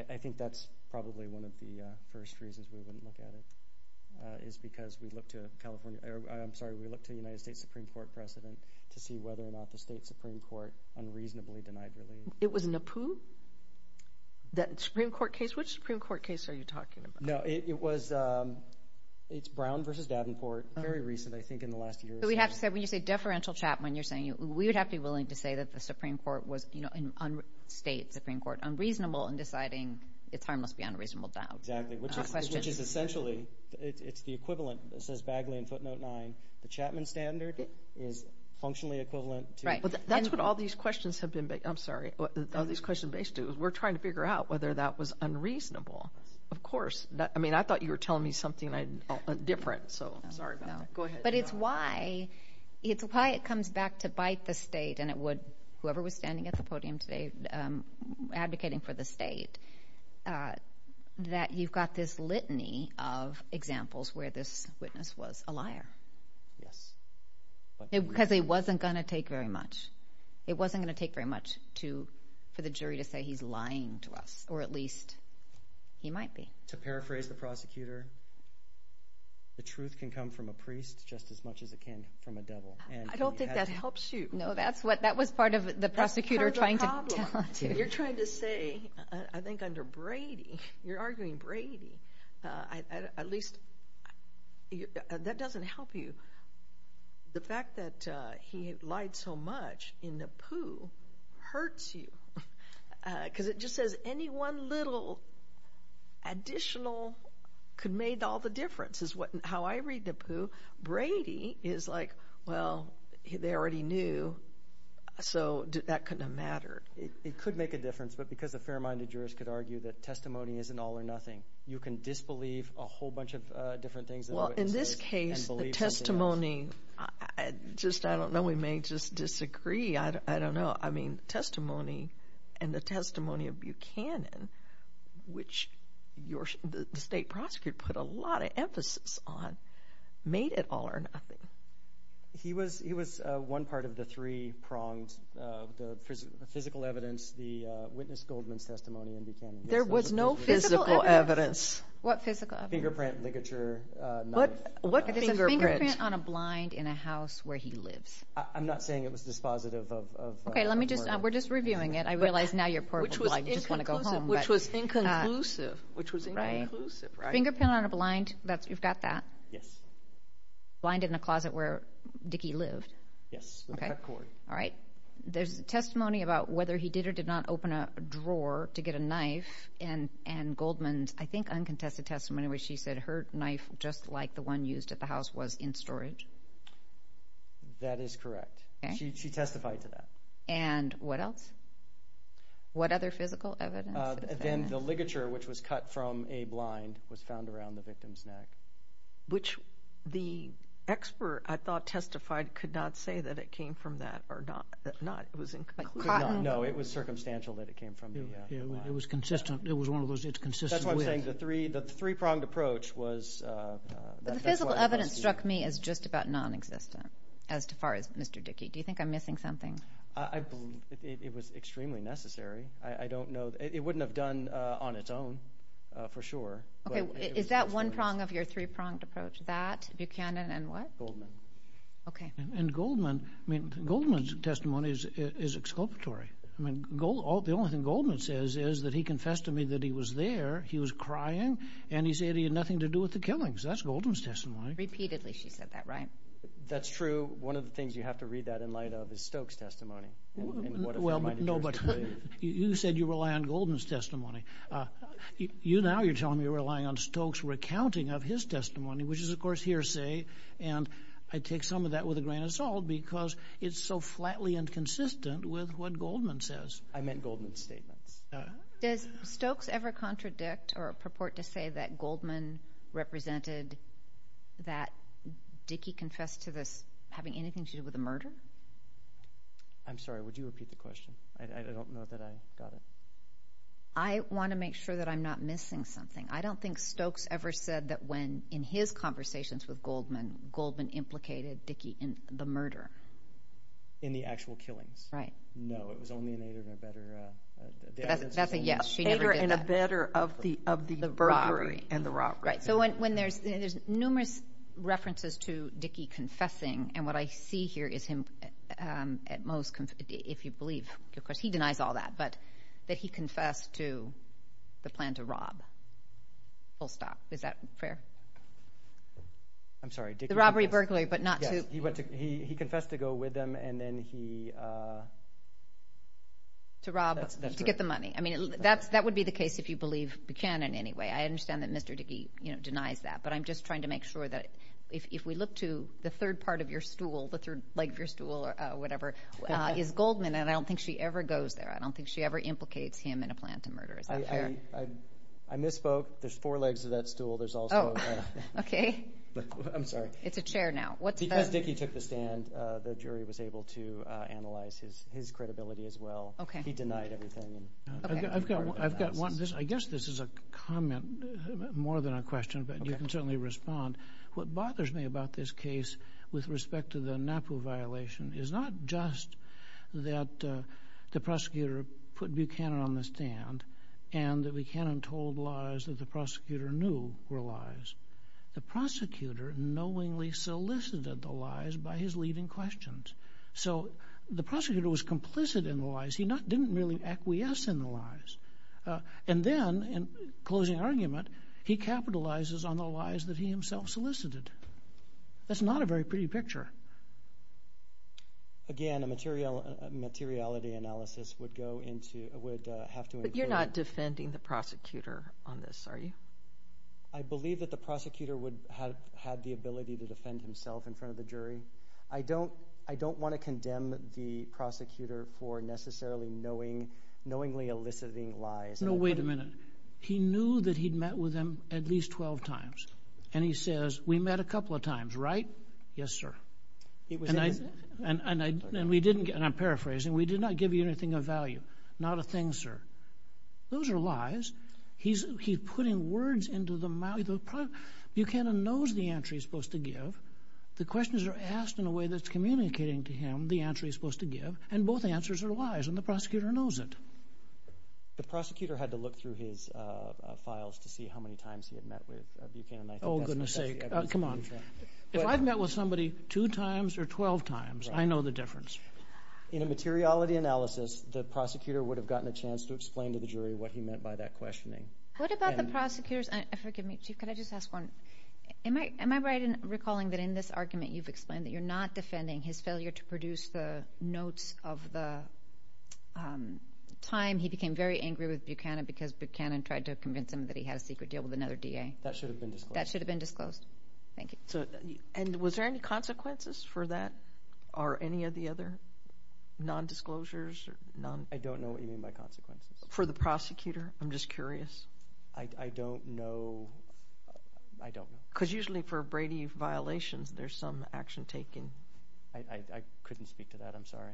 I think that's probably one of the first reasons we wouldn't look at it is because we look to California, I'm sorry, we look to United States Supreme Court precedent to see whether or not the state Supreme Court unreasonably denied relief. It was NAPU? That Supreme Court case, which Supreme Court case are you talking about? No, it was, it's Brown versus Davenport, very recent, I think in the last year. So we have to say when you say deferential Chapman, you're saying we would have to be willing to say that the Supreme Court was, you know, on state Supreme Court unreasonable in deciding if there must be unreasonable Dow. Exactly, which is essentially, it's the equivalent that says Bagley in footnote nine, the Chapman standard is functionally equivalent. Right, that's what all these questions have been, I'm sorry, all these questions based it was we're trying to figure out whether that was unreasonable. Of course, that I mean, I thought you were telling me something different. So sorry, go ahead. But it's why it's why it comes back to bite the state. And it would whoever was standing at the podium today advocating for the state Yes. Because it wasn't going to take very much. It wasn't going to take very much to for the jury to say he's lying to us, or at least he might be. To paraphrase the prosecutor, the truth can come from a priest just as much as it can from a devil. And I don't think that helps you know, that's what that was part of the prosecutor trying to you're trying to say, I think under Brady, you're arguing Brady, at least that doesn't help you. The fact that he lied so much in the poo hurts you. Because it just says any one little additional could made all the difference is what how I read the poo. Brady is like, well, they already knew. So that couldn't matter. It could make a difference. But because a fair minded jurist could argue that testimony isn't all or nothing. You can disbelieve a whole bunch of different things. In this case, the testimony, I just I don't know, we may just disagree. I don't know. I mean, testimony and the testimony of Buchanan, which your state prosecutor put a lot of emphasis on made it all or nothing. He was he was one part of the three prongs, the physical evidence, the witness Goldman's testimony in Buchanan. There was no physical evidence. What physical evidence? Fingerprint, ligature. What's a fingerprint on a blind in a house where he lives? I'm not saying it was dispositive of. OK, let me just we're just reviewing it. I realize now you're just going to go home, which was inconclusive, which was right. Fingerprint on a blind that you've got that. Yes. Blind in a closet where Dickie lives. Yes. All right. There's testimony about whether he did or did not open a drawer to get a knife. And and Goldman's, I think, uncontested testimony where she said her knife, just like the one used at the house, was in storage. That is correct. She testified to that. And what else? What other physical evidence? Then the ligature, which was cut from a blind, was found around the victim's neck. Which the expert, I thought, testified could not say that it came from that or not. Not it was. No, it was circumstantial that it came from. It was consistent. It was one of those. It's consistent with the three. The three pronged approach was the physical evidence struck me as just about non-existent as far as Mr. Dickie. Do you think I'm missing something? It was extremely necessary. I don't know. It wouldn't have done on its own for sure. OK, is that one prong of your three pronged approach that Buchanan and what? OK, and Goldman Goldman's testimony is exculpatory. I mean, the only thing Goldman says is that he confessed to me that he was there. He was crying and he said he had nothing to do with the killings. That's Goldman's testimony. Repeatedly. She said that, right? That's true. One of the things you have to read that in light of is Stokes testimony. Well, no, but you said you rely on Goldman's testimony. You now you're telling me you're relying on Stokes recounting of his testimony, which is, of course, hearsay. And I take some of that with a grain of salt because it's so flatly inconsistent with what Goldman says. I meant Goldman's statement. Does Stokes ever contradict or purport to say that Goldman represented that Dickey confessed to this having anything to do with the murder? I'm sorry, would you repeat the question? I don't know that I got it. I want to make sure that I'm not missing something. I don't think Stokes ever said that when in his conversations with Goldman, Goldman implicated Dickey in the murder. In the actual killing. Right. No, it was only in Aider and a better of the burglary and the robbery. Right. So when there's numerous references to Dickey confessing, and what I see here is him at most, if you believe, because he denies all that, but that he confessed to the plan to rob. Full stop. Is that fair? I'm sorry. The robbery, burglary, but not. He confessed to go with them and then he. To rob to get the money. I mean, that's that would be the case if you believe the canon. Anyway, I understand that Mr. Dickey denies that, but I'm just trying to make sure that if we look to the third part of your stool, the third leg of your stool or whatever is Goldman, and I don't think she ever goes there. I don't think she ever implicates him in a plan to murder. I misspoke. There's four legs of that stool. There's also. OK, I'm sorry. It's a chair now. Because Dickey took the stand, the jury was able to analyze his his credibility as well. OK, he denied everything. I've got one. I guess this is a comment more than a question, but you can certainly respond. What bothers me about this case with respect to the Napa violation is not just that the prosecutor put Buchanan on the stand and that Buchanan told lies that the prosecutor knew were lies. The prosecutor knowingly solicited the lies by his leading questions. So the prosecutor was complicit in the lies. He didn't really acquiesce in the lies. And then in closing argument, he capitalizes on the lies that he himself solicited. That's not a very pretty picture. Again, a material materiality analysis would go into would have to. But you're not defending the prosecutor on this, are you? I believe that the prosecutor would have had the ability to defend himself in front of the jury. I don't I don't want to condemn the prosecutor for necessarily knowing knowingly eliciting lies. No, wait a minute. He knew that he'd met with him at least 12 times. And he says, we met a couple of times, right? Yes, sir. And we didn't. And I'm paraphrasing. We did not give you anything of value, not a thing, sir. Those are lies. He's he's putting words into the mouth. Buchanan knows the answer he's supposed to give. The questions are asked in a way that's communicating to him the answer he's supposed to give. And both answers are lies. And the prosecutor knows it. The prosecutor had to look through his files to see how many times he had met with Buchanan. Oh, goodness sake. Come on. If I've met with somebody two times or 12 times, I know the difference. In a materiality analysis, the prosecutor would have gotten a chance to explain to the What about the prosecutors? Forgive me, Chief, could I just ask one? Am I right in recalling that in this argument, you've explained that you're not defending his failure to produce the notes of the time he became very angry with Buchanan because Buchanan tried to convince him that he had a secret deal with another DA? That should have been disclosed. That should have been disclosed. Thank you. And was there any consequences for that? Or any of the other non-disclosures? I don't know what you mean by consequences. For the prosecutor? I'm just curious. I don't know. I don't. Because usually for Brady violations, there's some action taking. I couldn't speak to that. I'm sorry.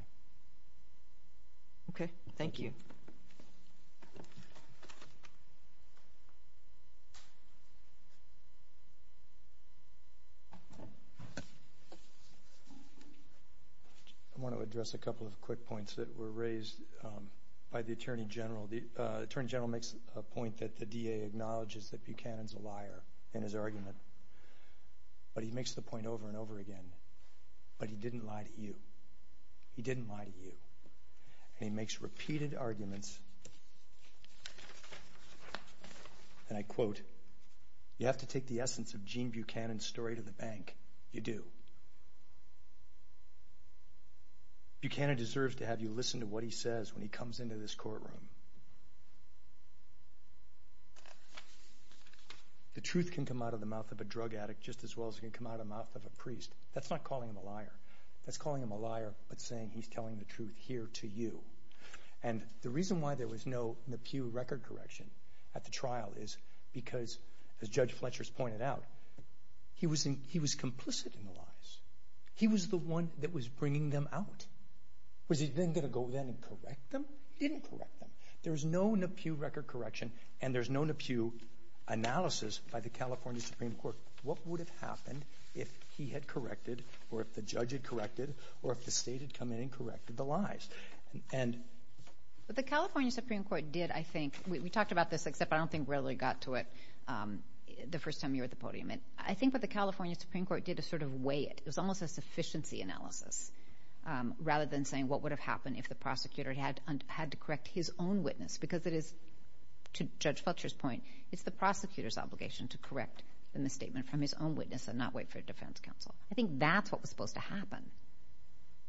OK, thank you. I want to address a couple of quick points that were raised by the attorney general. The attorney general makes a point that the DA acknowledges that Buchanan is a liar in his argument. But he makes the point over and over again. But he didn't lie to you. He didn't lie to you. And he makes repeated arguments. And I quote, you have to take the essence of Gene Buchanan's story to the bank. You do. Buchanan deserves to have you listen to what he says when he comes into this courtroom. The truth can come out of the mouth of a drug addict just as well as it can come out of the mouth of a priest. That's not calling him a liar. That's calling him a liar, but saying he's telling the truth here to you. And the reason why there was no McHugh record correction at the trial is because, as Judge Fletcher's pointed out, he was complicit in the lies. He was the one that was bringing them out. Was he then going to go then and correct them? He didn't correct them. There was no McHugh record correction, and there's no McHugh analysis by the California Supreme Court. What would have happened if he had corrected, or if the judge had corrected, or if the state had come in and corrected the lies? But the California Supreme Court did, I think, we talked about this, except I don't think really got to it the first time you were at the podium. And I think what the California Supreme Court did is sort of weigh it. It's almost a sufficiency analysis, rather than saying what would have happened if the witness, because it is, to Judge Fletcher's point, it's the prosecutor's obligation to correct the misstatement from his own witness and not wait for a defense counsel. I think that's what was supposed to happen.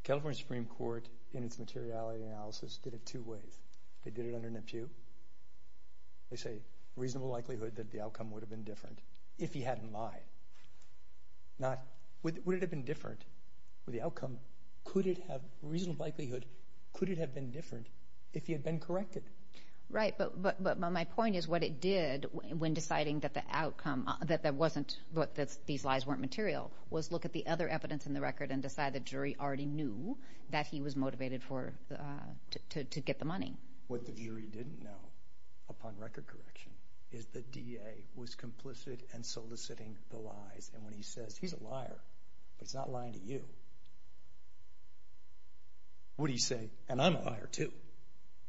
The California Supreme Court, in its materiality analysis, did it two ways. They did it under McHugh. They say reasonable likelihood that the outcome would have been different if he hadn't lied. Now, would it have been different for the outcome? Could it have, reasonable likelihood, could it have been different if he had been corrected? Right, but my point is what it did when deciding that the outcome, that there wasn't, that these lies weren't material, was look at the other evidence in the record and decide the jury already knew that he was motivated to get the money. What the DA didn't know, upon record correction, is the DA was complicit in soliciting the lies. And when he says, he's a liar, but he's not lying to you, what do you say? And I'm a liar, too.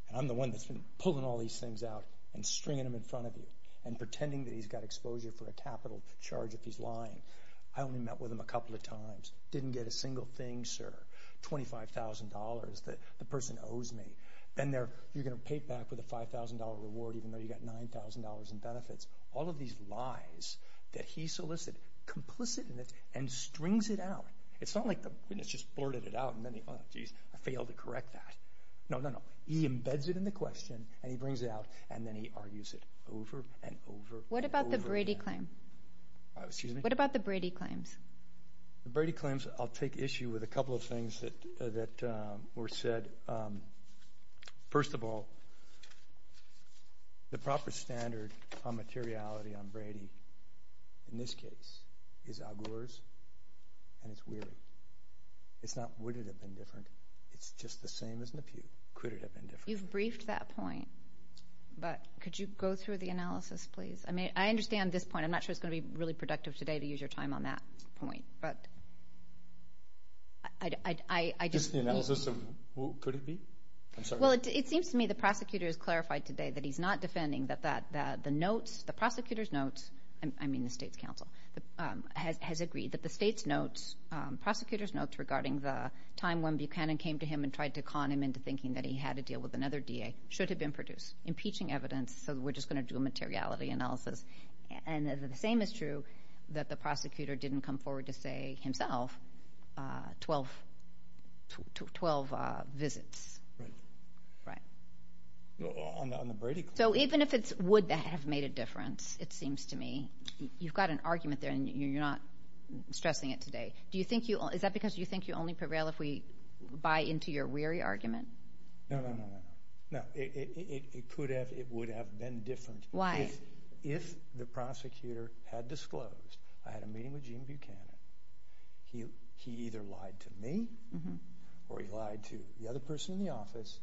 And I'm the one that's been pulling all these things out and stringing them in front of you and pretending that he's got exposure for a capital charge if he's lying. I only met with him a couple of times. Didn't get a single thing, sir, $25,000 that the person owes me. And you're going to pay it back with a $5,000 reward even though you got $9,000 in benefits. All of these lies that he solicited, complicit in it, and strings it out. It's not like it's just blurted it out and then, oh, geez, I failed to correct that. No, no, no. He embeds it in the question, and he brings it out, and then he argues it over and over and over again. What about the Brady claims? What about the Brady claims? The Brady claims, I'll take issue with a couple of things that were said. First of all, the proper standard on materiality on Brady, in this case, is Al Gore's, and it's weird. It's not would it have been different. It's just the same as in the Pew. Could it have been different? You've briefed that point, but could you go through the analysis, please? I mean, I understand this point. I'm not sure it's going to be really productive today to use your time on that point, but I just... Just the analysis of who could it be? Well, it seems to me the prosecutor has clarified today that he's not defending that the notes, the prosecutor's notes, I mean the state's counsel, has agreed that the state's notes, prosecutor's notes regarding the time when Buchanan came to him and tried to con him into thinking that he had to deal with another DA should have been produced, impeaching evidence, so we're just going to do a materiality analysis, and the same is true that the prosecutor didn't come forward to say himself 12 visits. Right. So even if it would have made a difference, it seems to me, you've got an argument there, and you're not stressing it today. Is that because you think you only prevail if we buy into your weary argument? No, no, no, no. Why? If the prosecutor had disclosed I had a meeting with Gene Buchanan, he either lied to me or he lied to the other person in the office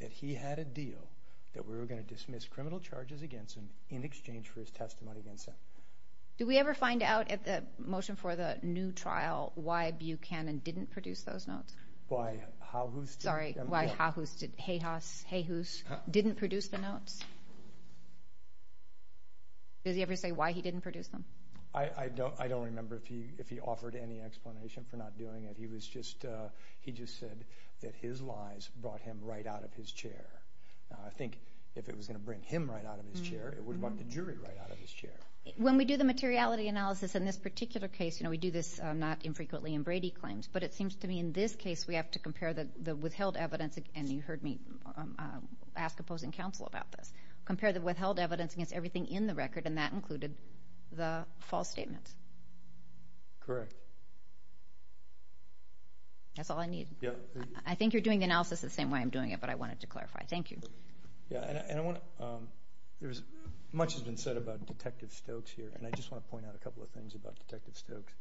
that he had a deal that we were going to dismiss criminal charges against him in exchange for his testimony against him. Did we ever find out at the motion for the new trial why Buchanan didn't produce those notes? Why? Did he ever say why he didn't produce them? I don't remember if he offered any explanation for not doing it. He just said that his lies brought him right out of his chair. I think if it was going to bring him right out of his chair, it would have brought the jury right out of his chair. When we do the materiality analysis in this particular case, and we do this not infrequently in Brady claims, but it seems to me in this case, we have to compare the withheld evidence, and you heard me ask opposing counsel about this, compare the withheld evidence against everything in the record, and that included the false statement. Correct. That's all I need. I think you're doing the analysis the same way I'm doing it, but I wanted to clarify. Thank you. Yeah, and I want to, there's much has been said about Detective Stokes here, and I just want to point out a couple of things about Detective Stokes.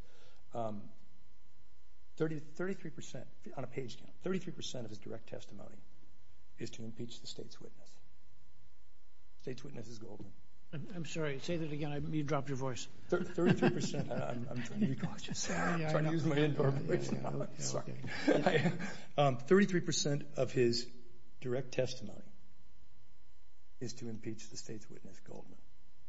Thirty-three percent, on a page, thirty-three percent of his direct testimony is to impeach the state's witness. State's witness is Goldman. I'm sorry, say that again, you dropped your voice. Thirty-three percent of his direct testimony is to impeach the state's witness, Goldman.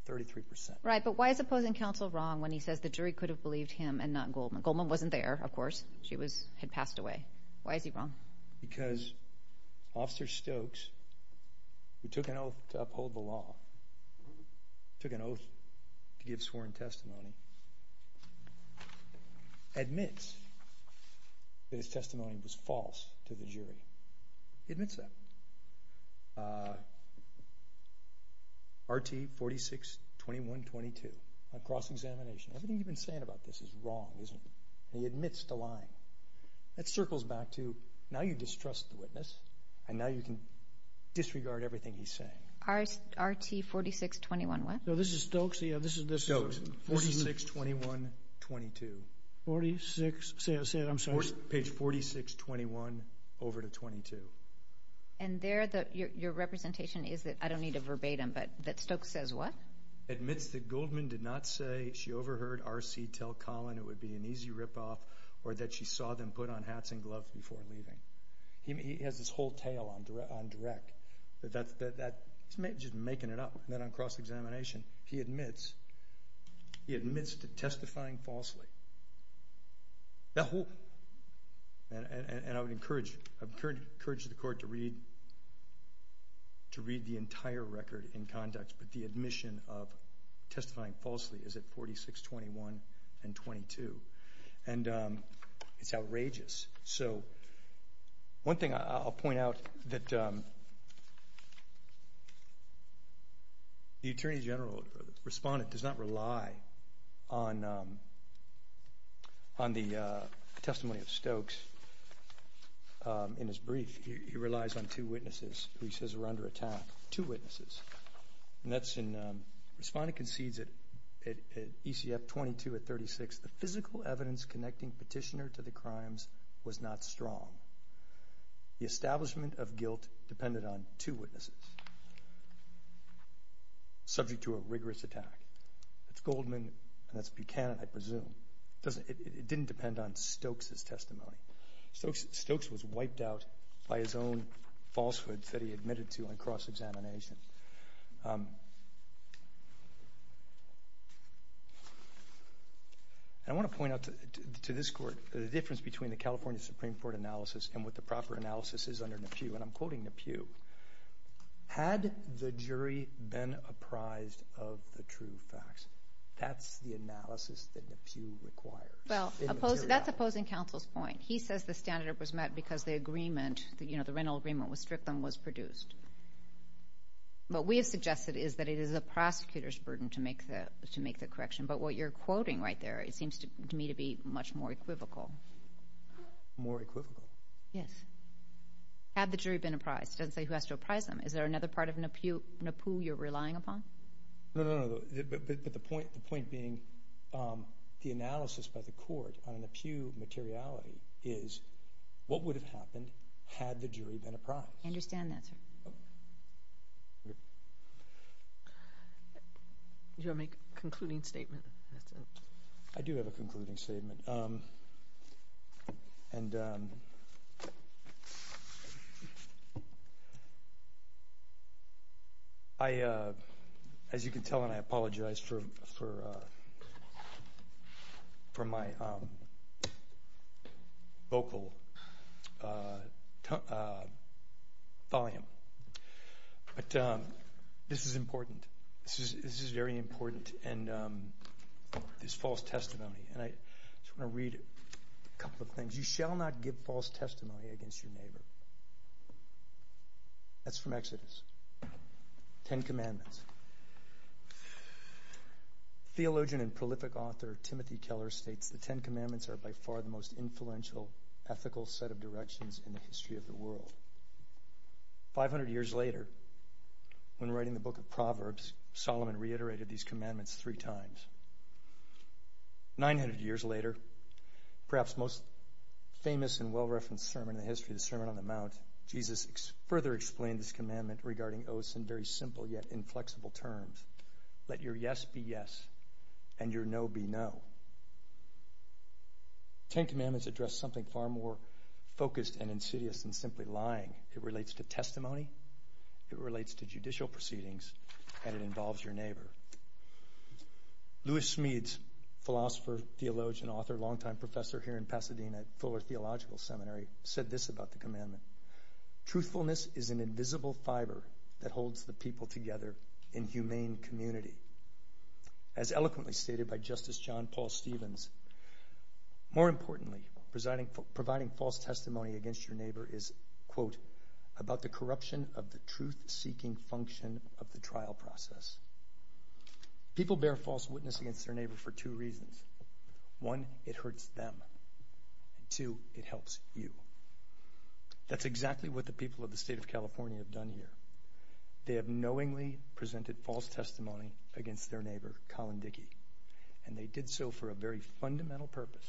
Thirty-three percent. Right, but why is opposing counsel wrong when he says the jury could have believed him and not Goldman? Goldman wasn't there, of course. She was, had passed away. Why is he wrong? Because Officer Stokes, who took an oath to uphold the law, took an oath to give sworn testimony, admits that his testimony was false to the jury. He admits that. RT-46-2122, a cross-examination. Everything you've been saying about this is wrong, isn't it? And he admits to lying. It circles back to, now you distrust the witness, and now you can disregard everything he's saying. RT-46-21 what? No, this is Stokes, yeah, this is this. Stokes, 46-21-22. 46, say it, say it, I'm sorry. Page 46-21, over to 22. And there, your representation is that, I don't need a verbatim, but that Stokes says what? Admits that Goldman did not say she overheard RC tell Colin it would be an easy rip-off, or that she saw them put on hats and gloves before leaving. He had this whole tale on direct, that's just making it up, not on cross-examination. He admits, he admits to testifying falsely. That whole, and I would encourage the court to read, to read the entire record in conduct, but the admission of testifying falsely is at 46-21-22. And it's outrageous. So one thing I'll point out that the Attorney General, Respondent, does not rely on the testimony of Stokes in his brief. He relies on two witnesses. He says they're under attack, two witnesses. And that's in, Respondent concedes at ECF-22 or 36, the physical evidence connecting Petitioner to the crimes was not strong. The establishment of guilt depended on two witnesses, subject to a rigorous attack. It's Goldman and it's Buchanan, I presume. It didn't depend on Stokes' testimony. Stokes was wiped out by his own falsehoods that he admitted to on cross-examination. I want to point out to this court, the difference between the California Supreme Court analysis and what the proper analysis is under the Pew. And I'm quoting the Pew. Had the jury been apprised of the true facts, that's the analysis that the Pew requires. Well, that's opposing counsel's point. He says the standard was met because the agreement, you know, the rental agreement with Strickland was produced. What we have suggested is that it is a prosecutor's burden to make that correction. But what you're quoting right there, it seems to me to be much more equivocal. More equivocal? Yes. Had the jury been apprised? It doesn't say who has to apprise them. Is there another part of the Pew you're relying upon? No, no, no, but the point being, the analysis by the court on the Pew materiality is, what would have happened had the jury been apprised? I understand that. Do you want to make a concluding statement? I do have a concluding statement. And I, as you can tell, and I apologize for my vocal volume. But this is important. This is very important. And this false testimony, and I just want to read a couple of things. You shall not give false testimony against your neighbor. That's from Exodus. Ten Commandments. Theologian and prolific author Timothy Keller states, the Ten Commandments are by far the most influential ethical set of directions in the history of the world. 500 years later, when writing the book of Proverbs, Solomon reiterated these commandments three times. 900 years later, perhaps most famous and well-referenced sermon in the history of the Sermon on the Mount, Jesus further explained this commandment regarding oaths in very simple yet inflexible terms. Let your yes be yes, and your no be no. Ten Commandments address something far more focused and insidious than simply lying. It relates to testimony, it relates to judicial proceedings, and it involves your neighbor. Louis Smeeds, philosopher, theologian, author, longtime professor here in Pasadena, Fuller Theological Seminary, said this about the commandment. Truthfulness is an invisible fiber that holds the people together in humane community. As eloquently stated by Justice John Paul Stevens, More importantly, providing false testimony against your neighbor is, quote, about the corruption of the truth-seeking function of the trial process. People bear false witness against their neighbor for two reasons. One, it hurts them. Two, it helps you. That's exactly what the people of the state of California have done here. They have knowingly presented false testimony against their neighbor, Colin Dickey, and they did so for a very fundamental purpose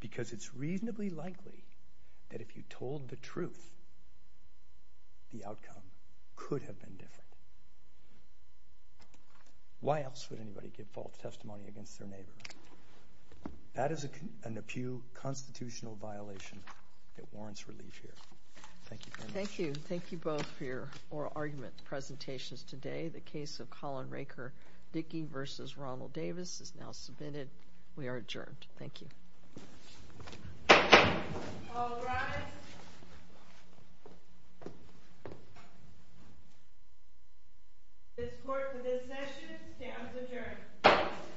because it's reasonably likely that if you told the truth, the outcome could have been different. Why else would anybody give false testimony against their neighbor? That is an acute constitutional violation that warrants relief here. Thank you very much. Thank you. Thank you both for your oral argument presentations today. The case of Colin Raker-Dickey versus Ronald Davis is now submitted. We are adjourned. Thank you.